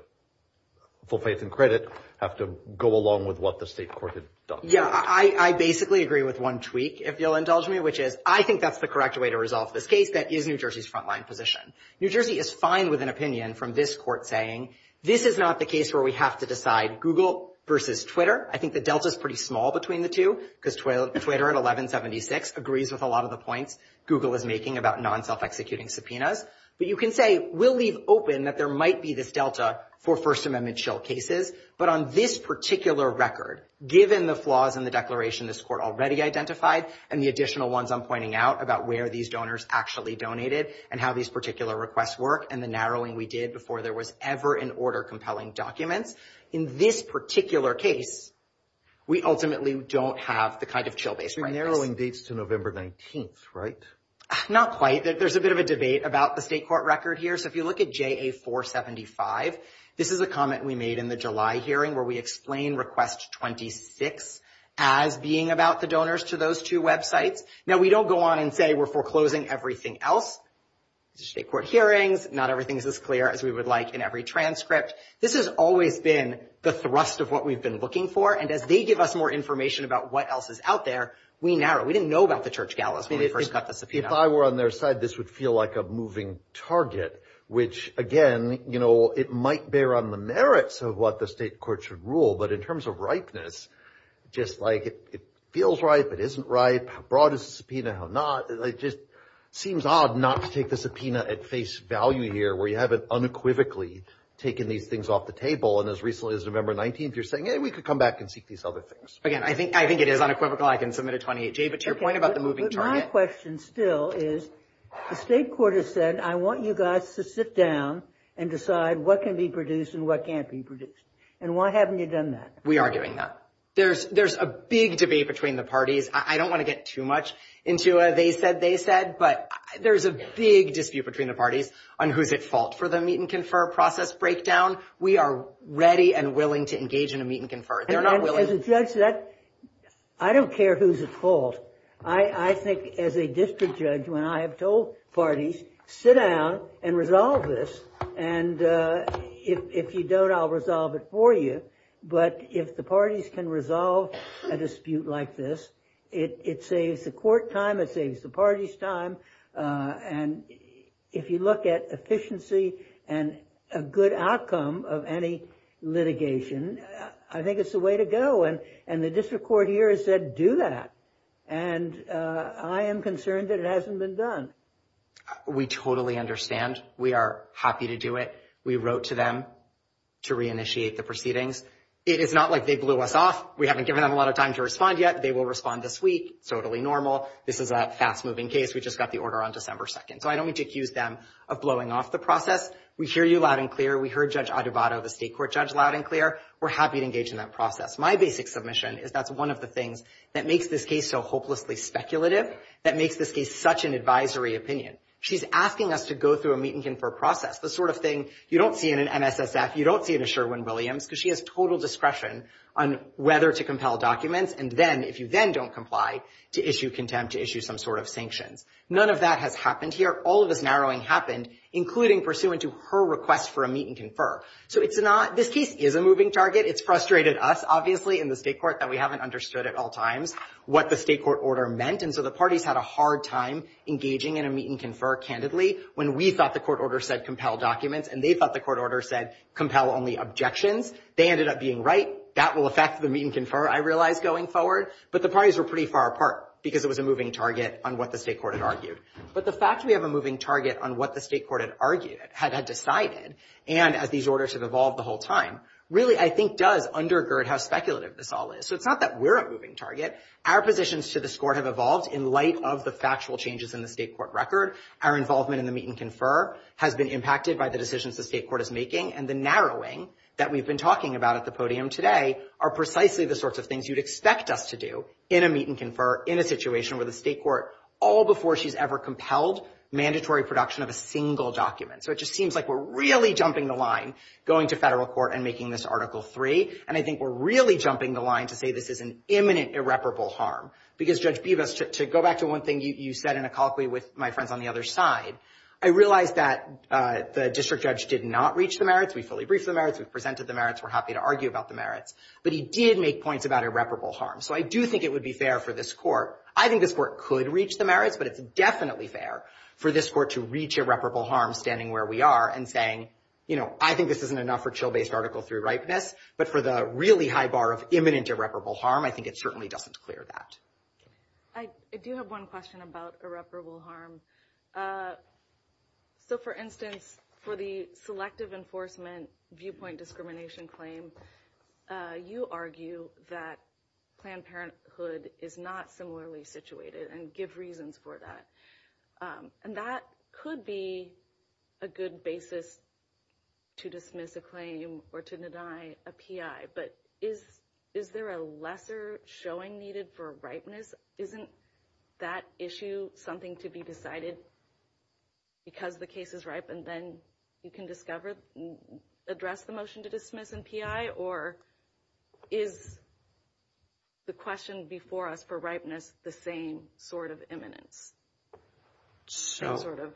full faith and credit, have to go along with what the state court had done. Yeah, I basically agree with one tweak. If you'll indulge me, which is, I think that's the correct way to resolve this case. That is New Jersey's frontline position. New Jersey is fine with an opinion from this court saying, this is not the case where we have to decide Google versus Twitter. I think the delta is pretty small between the two, because Twitter at 1176 agrees with a lot of the points Google is making about non-self-executing subpoenas. But you can say, we'll leave open that there might be this delta for First Amendment chill cases. But on this particular record, given the flaws in the declaration this court already identified, and the additional ones I'm pointing out about where these donors actually donated, and how these particular requests work, and the narrowing we did before there was ever an order compelling documents, in this particular case, we ultimately don't have the kind of chill-based practice. You're narrowing dates to November 19th, right? Not quite. There's a bit of a debate about the state court record here. So if you look at JA-475, this is a comment we made in the July hearing where we explain request 26 as being about the donors to those two websites. Now, we don't go on and say we're foreclosing everything else. State court hearings, not everything is as clear as we would like in every transcript. This has always been the thrust of what we've been looking for. And as they give us more information about what else is out there, we narrow. We didn't know about the church galas when we first got the subpoena. If I were on their side, this would feel like a moving target, which again, it might bear on the merits of what the state court should rule. But in terms of ripeness, just like it feels right, but isn't right. How broad is the subpoena? How not? It just seems odd not to take the subpoena at face value here where you haven't unequivocally taken these things off the table. And as recently as November 19th, you're saying, hey, we could come back and seek these other things. Again, I think it is unequivocal. I can submit a 28-J, but to your point about the moving target. But my question still is, the state court has said, I want you guys to sit down and decide what can be produced and what can't be produced. And why haven't you done that? We are doing that. There's a big debate between the parties. I don't want to get too much into a they said, they said. But there's a big dispute between the parties on who's at fault for the meet and confer process breakdown. We are ready and willing to engage in a meet and confer. They're not willing. As a judge, I don't care who's at fault. I think as a district judge, when I have told parties, sit down and resolve this. And if you don't, I'll resolve it for you. But if the parties can resolve a dispute like this, it saves the court time. It saves the parties time. And if you look at efficiency and a good outcome of any litigation, I think it's the way to go. And the district court here has said, do that. And I am concerned that it hasn't been done. We totally understand. We are happy to do it. We wrote to them to reinitiate the proceedings. It is not like they blew us off. We haven't given them a lot of time to respond yet. They will respond this week. Totally normal. This is a fast-moving case. We just got the order on December 2nd. So I don't mean to accuse them of blowing off the process. We hear you loud and clear. We heard Judge Adubato, the state court judge, loud and clear. We're happy to engage in that process. My basic submission is that's one of the things that makes this case so hopelessly speculative, that makes this case such an advisory opinion. She's asking us to go through a meet and confer process, the sort of thing you don't see in an MSSF, you don't see in a Sherwin-Williams, because she has total discretion on whether to compel documents and then, if you then don't comply, to issue contempt, to issue some sort of sanctions. None of that has happened here. All of this narrowing happened, including pursuant to her request for a meet and confer. So it's not, this case is a moving target. It's frustrated us, obviously, in the state court, that we haven't understood at all times what the state court order meant. And so the parties had a hard time engaging in a meet and confer, candidly, when we thought the court order said compel documents and they thought the court order said compel only objections. They ended up being right. That will affect the meet and confer, I realize, going forward. But the parties were pretty far apart because it was a moving target on what the state court had argued. But the fact we have a moving target on what the state court had argued, had decided, and as these orders have evolved the whole time, really, I think, does undergird how speculative this all is. So it's not that we're a moving target. Our positions to this court have evolved in light of the factual changes in the state court record. Our involvement in the meet and confer has been impacted by the decisions the state court is making. And the narrowing that we've been talking about at the podium today are precisely the sorts of things you'd expect us to do in a meet and confer, in a situation where the state court, all before she's ever compelled, mandatory production of a single document. So it just seems like we're really jumping the line going to federal court and making this Article III. And I think we're really jumping the line to say this is an imminent, irreparable harm. Because Judge Bibas, to go back to one thing you said in a colloquy with my friends on the other side, I realized that the district judge did not reach the merits. We fully briefed the merits. We've presented the merits. We're happy to argue about the merits. But he did make points about irreparable harm. So I do think it would be fair for this court. I think this court could reach the merits, but it's definitely fair for this court to reach irreparable harm standing where we are and saying, you know, I think this isn't enough for chill-based Article III ripeness, but for the really high bar of imminent irreparable harm, I think it certainly doesn't clear that. I do have one question about irreparable harm. So for instance, for the selective enforcement viewpoint discrimination claim, you argue that Planned Parenthood is not similarly situated and give reasons for that. And that could be a good basis to dismiss a claim or to deny a PI. But is there a lesser showing needed for ripeness? Isn't that issue something to be decided because the case is ripe and then you can discover, address the motion to dismiss and PI? Or is the question before us for ripeness the same sort of imminence? So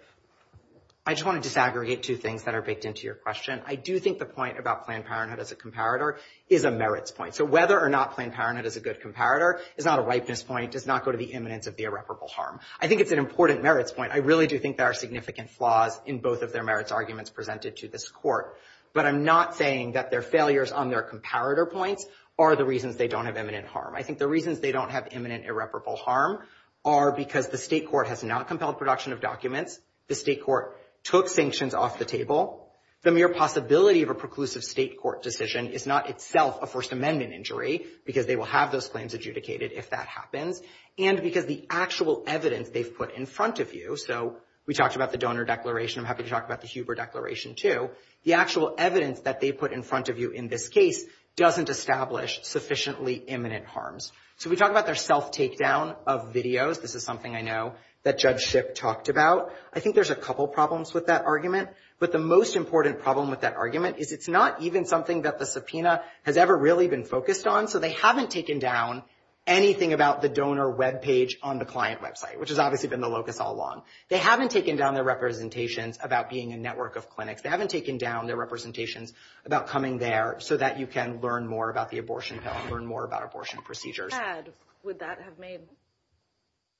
I just want to disaggregate two things that are baked into your question. I do think the point about Planned Parenthood as a comparator is a merits point. So whether or not Planned Parenthood is a good comparator is not a ripeness point, does not go to the imminence of the irreparable harm. I think it's an important merits point. I really do think there are significant flaws in both of their merits arguments presented to this court. But I'm not saying that their failures on their comparator points are the reasons they don't have imminent harm. I think the reasons they don't have imminent irreparable harm are because the state court has not compelled production of documents. The state court took sanctions off the table. The mere possibility of a preclusive state court decision is not itself a First Amendment injury because they will have those claims adjudicated if that happens. And because the actual evidence they've put in front of you. So we talked about the donor declaration. I'm happy to talk about the Huber declaration too. The actual evidence that they put in front of you in this case doesn't establish sufficiently imminent harms. So we talk about their self-takedown of videos. This is something I know that Judge Shipp talked about. I think there's a couple problems with that argument. But the most important problem with that argument is it's not even something that the subpoena has ever really been focused on. So they haven't taken down anything about the donor webpage on the client website, which has obviously been the locus all along. They haven't taken down their representations about being a network of clinics. They haven't taken down their representations about coming there so that you can learn more about the abortion pill and learn more about abortion procedures. If they had, would that have made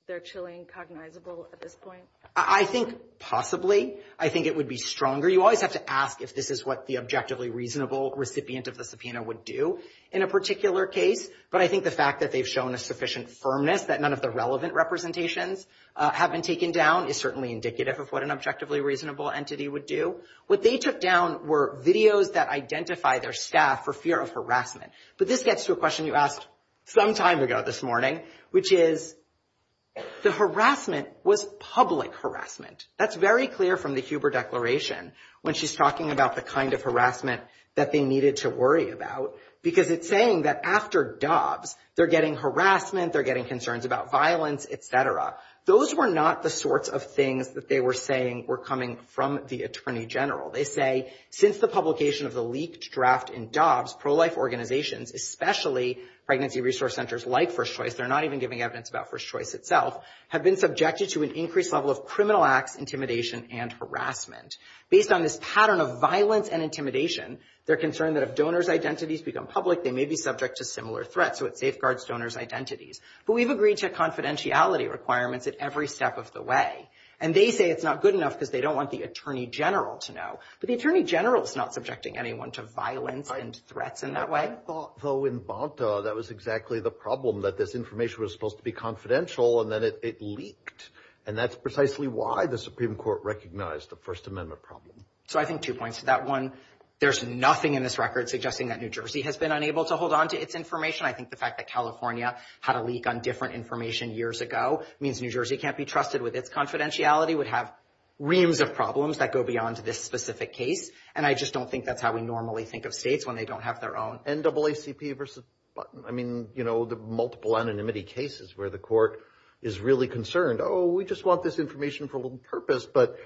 their chilling cognizable at this point? I think possibly. I think it would be stronger. You always have to ask if this is what the objectively reasonable recipient of the subpoena would do in a particular case. But I think the fact that they've shown a sufficient firmness that none of the relevant representations have been taken down is certainly indicative of what an objectively reasonable entity would do. What they took down were videos that identify their staff for fear of harassment. But this gets to a question you asked some time ago this morning, which is the harassment was public harassment. That's very clear from the Huber Declaration when she's talking about the kind of harassment that they needed to worry about. Because it's saying that after DOBS, they're getting harassment, they're getting concerns about violence, et cetera. Those were not the sorts of things that they were saying were coming from the Attorney General. They say, since the publication of the leaked draft in DOBS, pro-life organizations, especially pregnancy resource centers like First Choice, they're not even giving evidence about First Choice itself, have been subjected to an increased level of criminal acts, intimidation, and harassment. Based on this pattern of violence and intimidation, they're concerned that if donors' identities become public, they may be subject to similar threats. So it safeguards donors' identities. But we've agreed to confidentiality requirements at every step of the way. And they say it's not good enough because they don't want the Attorney General to know. But the Attorney General is not subjecting anyone to violence and threats in that way. I thought, though, in Bonta, that was exactly the problem, that this information was supposed to be confidential and then it leaked. And that's precisely why the Supreme Court recognized the First Amendment problem. So I think two points to that one. There's nothing in this record suggesting that New Jersey has been unable to hold on to its information. I think the fact that California had a leak on different information years ago means New Jersey can't be trusted with its confidentiality, would have reams of problems that go beyond this specific case. And I just don't think that's how we normally think of states when they don't have their own. NAACP versus Button. I mean, you know, the multiple anonymity cases where the court is really concerned, oh, we just want this information for a little purpose. But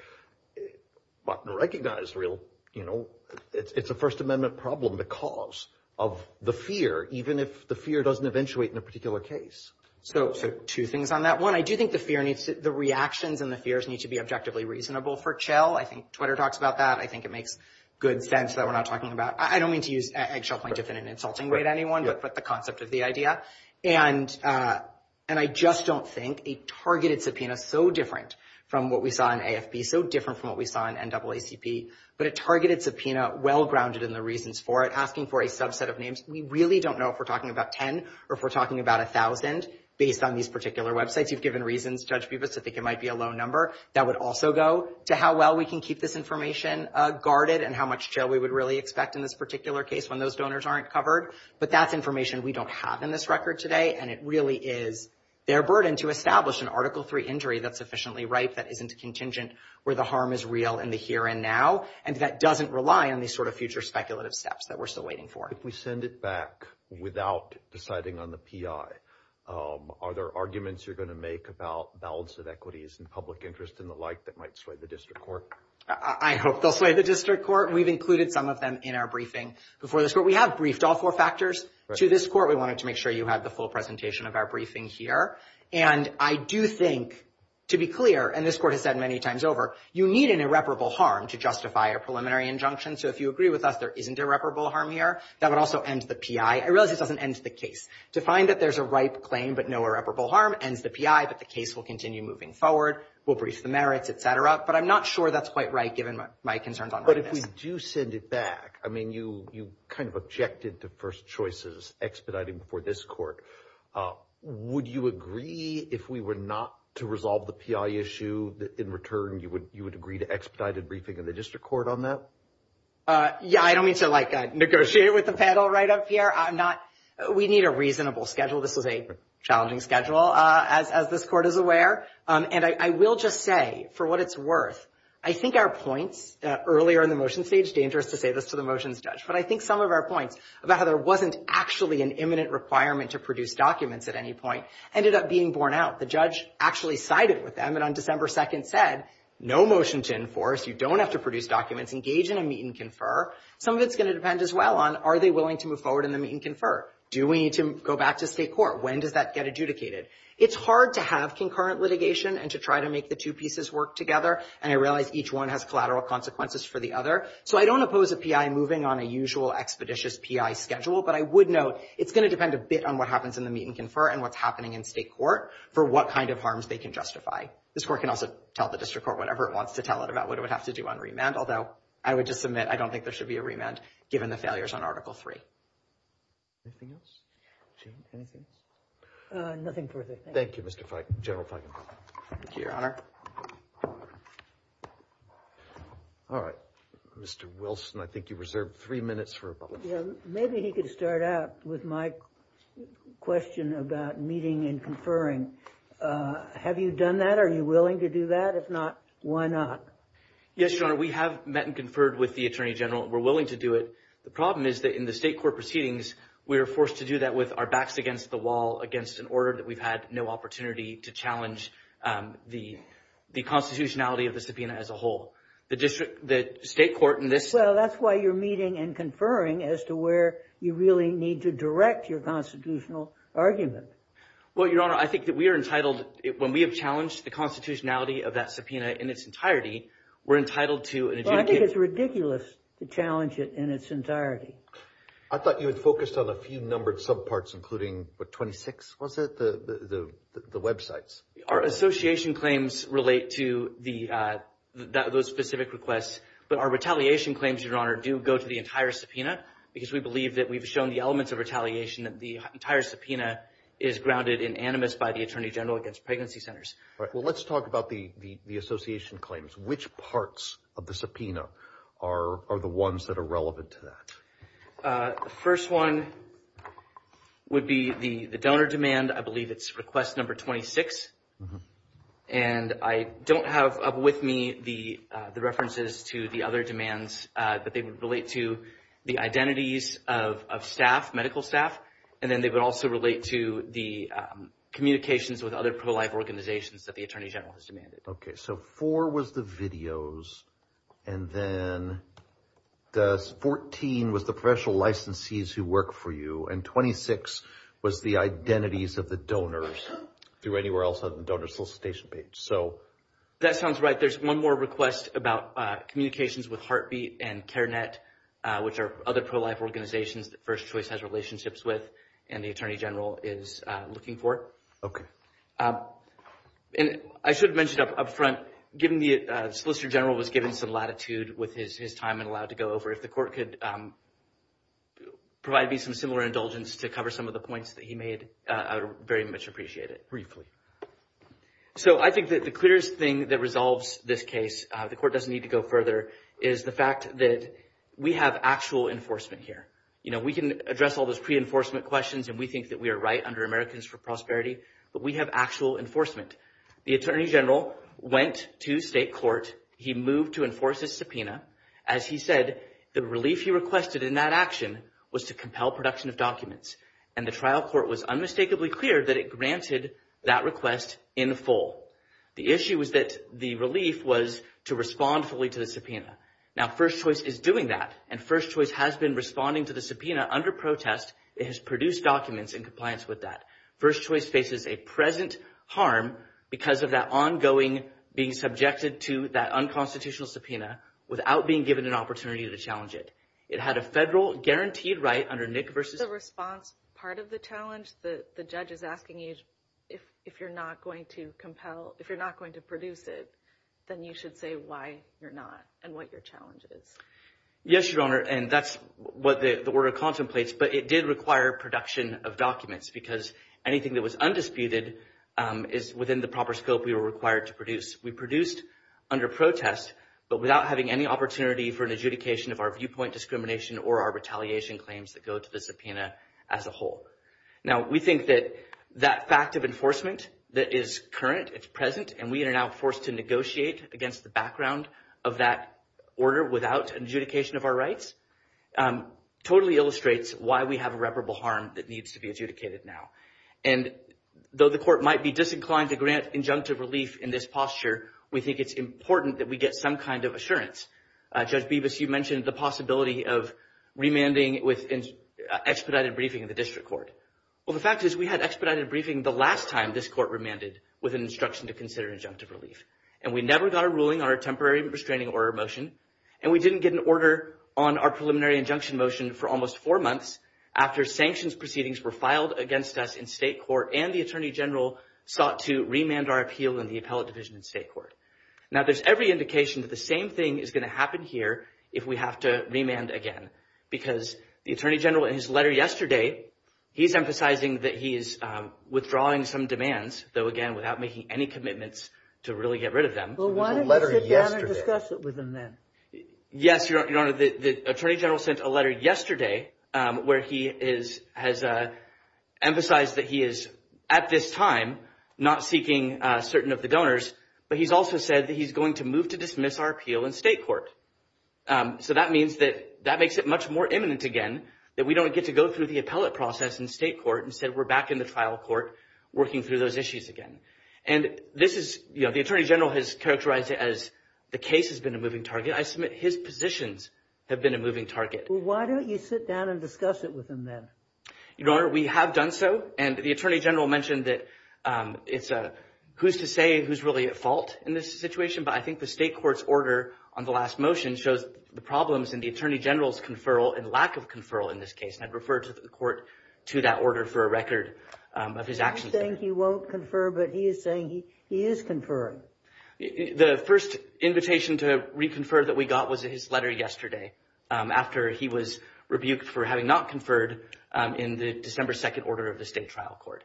Button recognized real, you know, it's a First Amendment problem because of the fear, even if the fear doesn't eventuate in a particular case. So two things on that. One, I do think the fear the reactions and the fears need to be objectively reasonable for Chell. I think Twitter talks about that. I think it makes good sense that we're not talking about. I don't mean to use Eggshell Point to fit an insulting way to anyone, but the concept of the idea. And I just don't think a targeted subpoena so different from what we saw in AFB, so different from what we saw in NAACP, but a targeted subpoena, well-grounded in the reasons for it, asking for a subset of names. We really don't know if we're talking about 10 or if we're talking about 1,000 based on these particular websites. You've given reasons, Judge Bubas, to think it might be a low number. That would also go to how well we can keep this information guarded and how much Chell we would really expect in this particular case when those donors aren't covered. But that's information we don't have in this record today. And it really is their burden to establish an Article III injury that's sufficiently ripe, that isn't contingent, where the harm is real in the here and now. And that doesn't rely on these sort of future speculative steps that we're still waiting for. If we send it back without deciding on the PI, are there arguments you're going to make about balance of equities and public interest and the like that might sway the district court? I hope they'll sway the district court. We've included some of them in our briefing before this court. We have briefed all four factors to this court. We wanted to make sure you had the full presentation of our briefing here. And I do think, to be clear, and this court has said many times over, you need an irreparable harm to justify a preliminary injunction. So if you agree with us, there isn't irreparable harm here. That would also end the PI. I realize it doesn't end the case. To find that there's a ripe claim but no irreparable harm ends the PI, but the case will continue moving forward. We'll brief the merits, et cetera. But I'm not sure that's quite right given my concerns on this. But if we do send it back, I mean, you kind of objected to first choices expediting before this court. Would you agree if we were not to resolve the PI issue, in return, you would agree to expedited briefing in the district court on that? Yeah, I don't mean to like negotiate with the panel right up here. We need a reasonable schedule. This is a challenging schedule. As this court is aware, and I will just say for what it's worth, I think our points earlier in the motion stage, dangerous to say this to the motions judge, but I think some of our points about how there wasn't actually an imminent requirement to produce documents at any point ended up being borne out. The judge actually sided with them and on December 2nd said, no motion to enforce. You don't have to produce documents. Engage in a meet and confer. Some of it's going to depend as well on are they willing to move forward in the meet and confer? Do we need to go back to state court? When does that get adjudicated? It's hard to have concurrent litigation and to try to make the two pieces work together. And I realize each one has collateral consequences for the other. So I don't oppose a PI moving on a usual expeditious PI schedule, but I would note, it's going to depend a bit on what happens in the meet and confer and what's happening in state court for what kind of harms they can justify. This court can also tell the district court whatever it wants to tell it about what it would have to do on remand. Although I would just submit, I don't think there should be a remand given the failures on article three. Anything else? Anything? Nothing further. Thank you, Mr. General Feigenbaum. All right. Mr. Wilson, I think you reserved three minutes for public comment. Maybe he could start out with my question about meeting and conferring. Have you done that? Are you willing to do that? If not, why not? Yes, Your Honor. We have met and conferred with the Attorney General. We're willing to do it. The problem is that in the state court proceedings, we were forced to do that with our backs against the wall, against an order that we've had no opportunity to challenge the constitutionality of the subpoena as a whole. The district, the state court, and this- Well, that's why you're meeting and conferring as to where you really need to direct your constitutional argument. Well, Your Honor, I think that we are entitled, when we have challenged the constitutionality of that subpoena in its entirety, we're entitled to an adjudicate- I think it's ridiculous to challenge it in its entirety. I thought you had focused on a few numbered subparts, including, what, 26? Was it the websites? Our association claims relate to those specific requests, but our retaliation claims, Your Honor, do go to the entire subpoena because we believe that we've shown the elements of retaliation that the entire subpoena is grounded in animus by the Attorney General against pregnancy centers. Well, let's talk about the association claims. Which parts of the subpoena are the ones that are relevant to that? The first one would be the donor demand. I believe it's request number 26. And I don't have up with me the references to the other demands that they would relate to the identities of staff, medical staff, and then they would also relate to the communications with other pro-life organizations that the Attorney General has demanded. OK, so four was the videos, and then 14 was the professional licensees who work for you, and 26 was the identities of the donors through anywhere else on the donor solicitation page. That sounds right. There's one more request about communications with Heartbeat and Care Net, which are other pro-life organizations that First Choice has relationships with and the Attorney General is looking for. OK. And I should have mentioned up front, given the Solicitor General was given some latitude with his time and allowed to go over, if the court could provide me some similar indulgence to cover some of the points that he made, I would very much appreciate it. Briefly. So I think that the clearest thing that resolves this case, the court doesn't need to go further, is the fact that we have actual enforcement here. You know, we can address all those pre-enforcement questions and we think that we are right under Americans for Prosperity, but we have actual enforcement. The Attorney General went to state court. He moved to enforce his subpoena. As he said, the relief he requested in that action was to compel production of documents and the trial court was unmistakably clear that it granted that request in full. The issue was that the relief was to respond fully to the subpoena. Now, First Choice is doing that and First Choice has been responding to the subpoena under protest. It has produced documents in compliance with that. First Choice faces a present harm because of that ongoing being subjected to that unconstitutional subpoena without being given an opportunity to challenge it. It had a federal guaranteed right under Nick versus... The response part of the challenge that the judge is asking you if you're not going to compel, if you're not going to produce it, then you should say why you're not and what your challenge is. Yes, Your Honor, and that's what the order contemplates, but it did require production of documents because anything that was undisputed is within the proper scope we were required to produce. We produced under protest, but without having any opportunity for an adjudication of our viewpoint discrimination or our retaliation claims that go to the subpoena as a whole. Now, we think that that fact of enforcement that is current, it's present, and we are now forced to negotiate against the background of that order without an adjudication of our rights totally illustrates why we have irreparable harm that needs to be adjudicated now. And though the court might be disinclined to grant injunctive relief in this posture, we think it's important that we get some kind of assurance. Judge Bibas, you mentioned the possibility of remanding with expedited briefing in the district court. Well, the fact is we had expedited briefing the last time this court remanded with an instruction to consider injunctive relief, and we never got a ruling on our temporary restraining order motion, and we didn't get an order on our preliminary injunction motion for almost four months after sanctions proceedings were filed against us in state court and the Attorney General sought to remand our appeal in the appellate division in state court. Now, there's every indication that the same thing is going to happen here if we have to remand again, because the Attorney General in his letter yesterday, he's emphasizing that he is withdrawing some demands, though, again, without making any commitments to really get rid of them. Well, why don't you sit down and discuss it with him then? Yes, Your Honor, the Attorney General sent a letter yesterday where he has emphasized that he is at this time not seeking certain of the donors, but he's also said that he's going to move to dismiss our appeal in state court. So that means that that makes it much more imminent again that we don't get to go through the appellate process in state court instead we're back in the trial court working through those issues again. And this is, you know, the Attorney General has characterized it as the case has been a moving target. I submit his positions have been a moving target. Why don't you sit down and discuss it with him then? Your Honor, we have done so, and the Attorney General mentioned that it's a who's to say who's really at fault in this situation. But I think the state court's order on the last motion shows the problems in the Attorney General's conferral and lack of conferral in this case. And I'd refer to the court to that order for a record of his actions. He's saying he won't confer, but he is saying he is conferring. The first invitation to reconfer that we got was his letter yesterday after he was rebuked for having not conferred in the December 2nd order of the state trial court.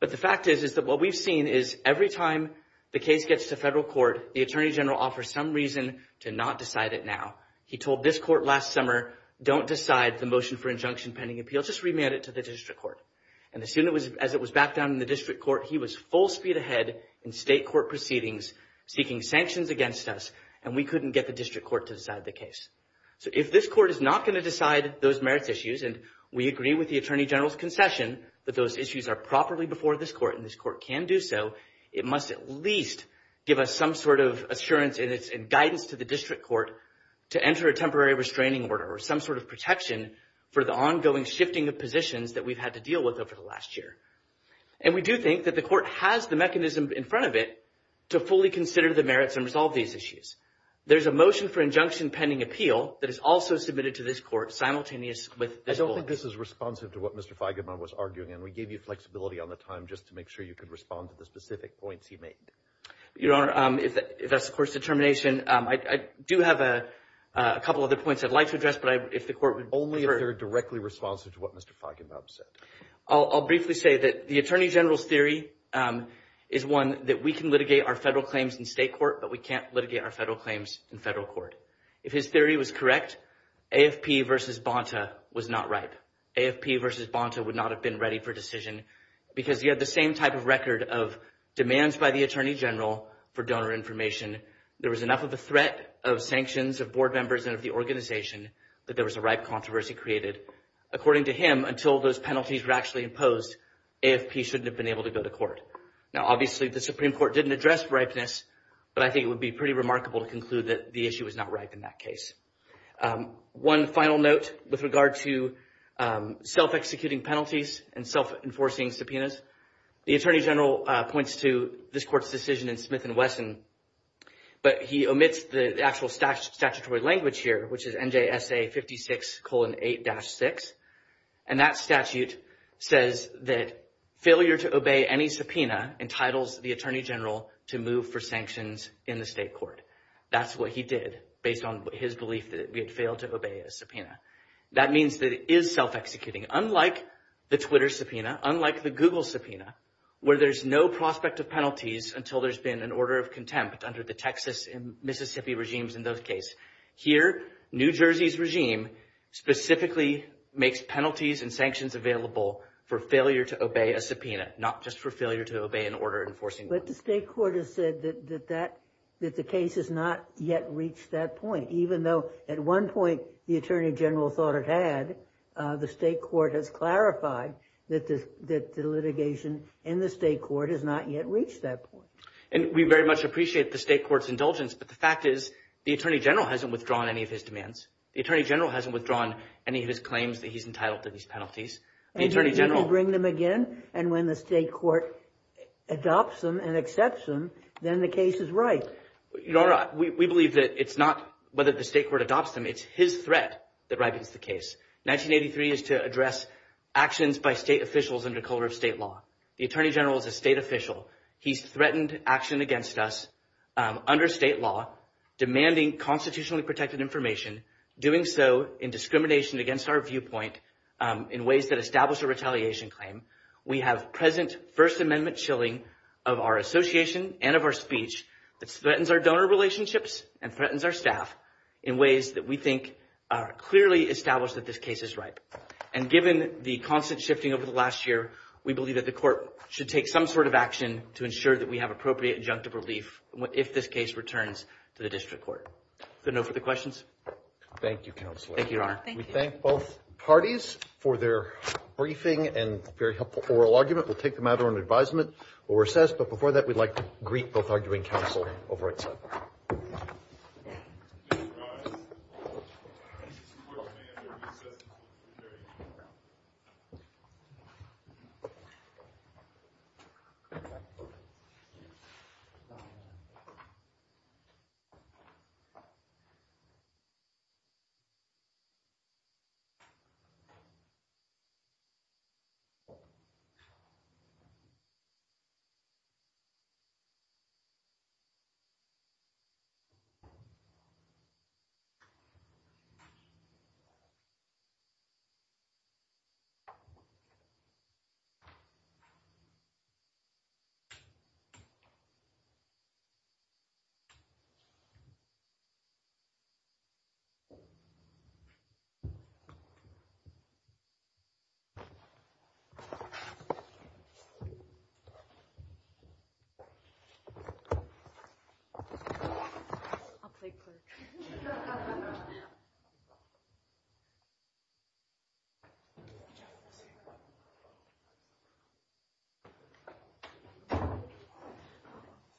But the fact is, is that what we've seen is every time the case gets to federal court, the Attorney General offers some reason to not decide it now. He told this court last summer, don't decide the motion for injunction pending appeal, just remand it to the district court. And as soon as it was back down in the district court, he was full speed ahead in state court proceedings seeking sanctions against us and we couldn't get the district court to decide the case. So if this court is not going to decide those merits issues, and we agree with the Attorney General's concession, those issues are properly before this court and this court can do so, it must at least give us some sort of assurance and guidance to the district court to enter a temporary restraining order or some sort of protection for the ongoing shifting of positions that we've had to deal with over the last year. And we do think that the court has the mechanism in front of it to fully consider the merits and resolve these issues. There's a motion for injunction pending appeal that is also submitted to this court simultaneous with this. I don't think this is responsive to what Mr. Feigenbaum was arguing and we gave you flexibility on the time just to make sure you could respond to the specific points he made. Your Honor, if that's the court's determination, I do have a couple other points I'd like to address, but if the court would... Only if they're directly responsive to what Mr. Feigenbaum said. I'll briefly say that the Attorney General's theory is one that we can litigate our federal claims in state court, but we can't litigate our federal claims in federal court. If his theory was correct, AFP versus Bonta was not right. AFP versus Bonta would not have been ready for decision because he had the same type of record of demands by the Attorney General for donor information. There was enough of a threat of sanctions of board members and of the organization that there was a ripe controversy created. According to him, until those penalties were actually imposed, AFP shouldn't have been able to go to court. Now, obviously, the Supreme Court didn't address ripeness, but I think it would be pretty remarkable to conclude that the issue was not right in that case. One final note with regard to self-executing penalties and self-enforcing subpoenas. The Attorney General points to this court's decision in Smith and Wesson, but he omits the actual statutory language here, which is NJSA 56 colon 8-6. And that statute says that failure to obey any subpoena entitles the Attorney General to move for sanctions in the state court. That's what he did based on his belief that we had failed to obey a subpoena. That means that it is self-executing, unlike the Twitter subpoena, unlike the Google subpoena, where there's no prospect of penalties until there's been an order of contempt under the Texas and Mississippi regimes in those case. Here, New Jersey's regime specifically makes penalties and sanctions available for failure to obey a subpoena, not just for failure to obey an order enforcing law. But the state court has said that that, that the case has not yet reached that point, even though at one point the Attorney General thought it had, the state court has clarified that the litigation in the state court has not yet reached that point. And we very much appreciate the state court's indulgence. But the fact is, the Attorney General hasn't withdrawn any of his demands. The Attorney General hasn't withdrawn any of his claims that he's entitled to these penalties. And he'll bring them again. And when the state court adopts them and accepts them, then the case is right. We believe that it's not whether the state court adopts them, it's his threat that ribbons the case. 1983 is to address actions by state officials under color of state law. The Attorney General is a state official. He's threatened action against us under state law, demanding constitutionally protected information, doing so in discrimination against our viewpoint in ways that establish a retaliation claim. We have present First Amendment chilling of our association and of our speech that threatens our donor relationships and threatens our staff in ways that we think are clearly established that this case is right. And given the constant shifting over the last year, we believe that the court should take some sort of action to ensure that we have appropriate injunctive relief if this case returns to the district court. Is there a note for the questions? Thank you, Counselor. Thank you, Your Honor. We thank both parties for their briefing and very helpful oral argument. We'll take them either on advisement or recess. But before that, we'd like to greet both arguing counsel over at the side.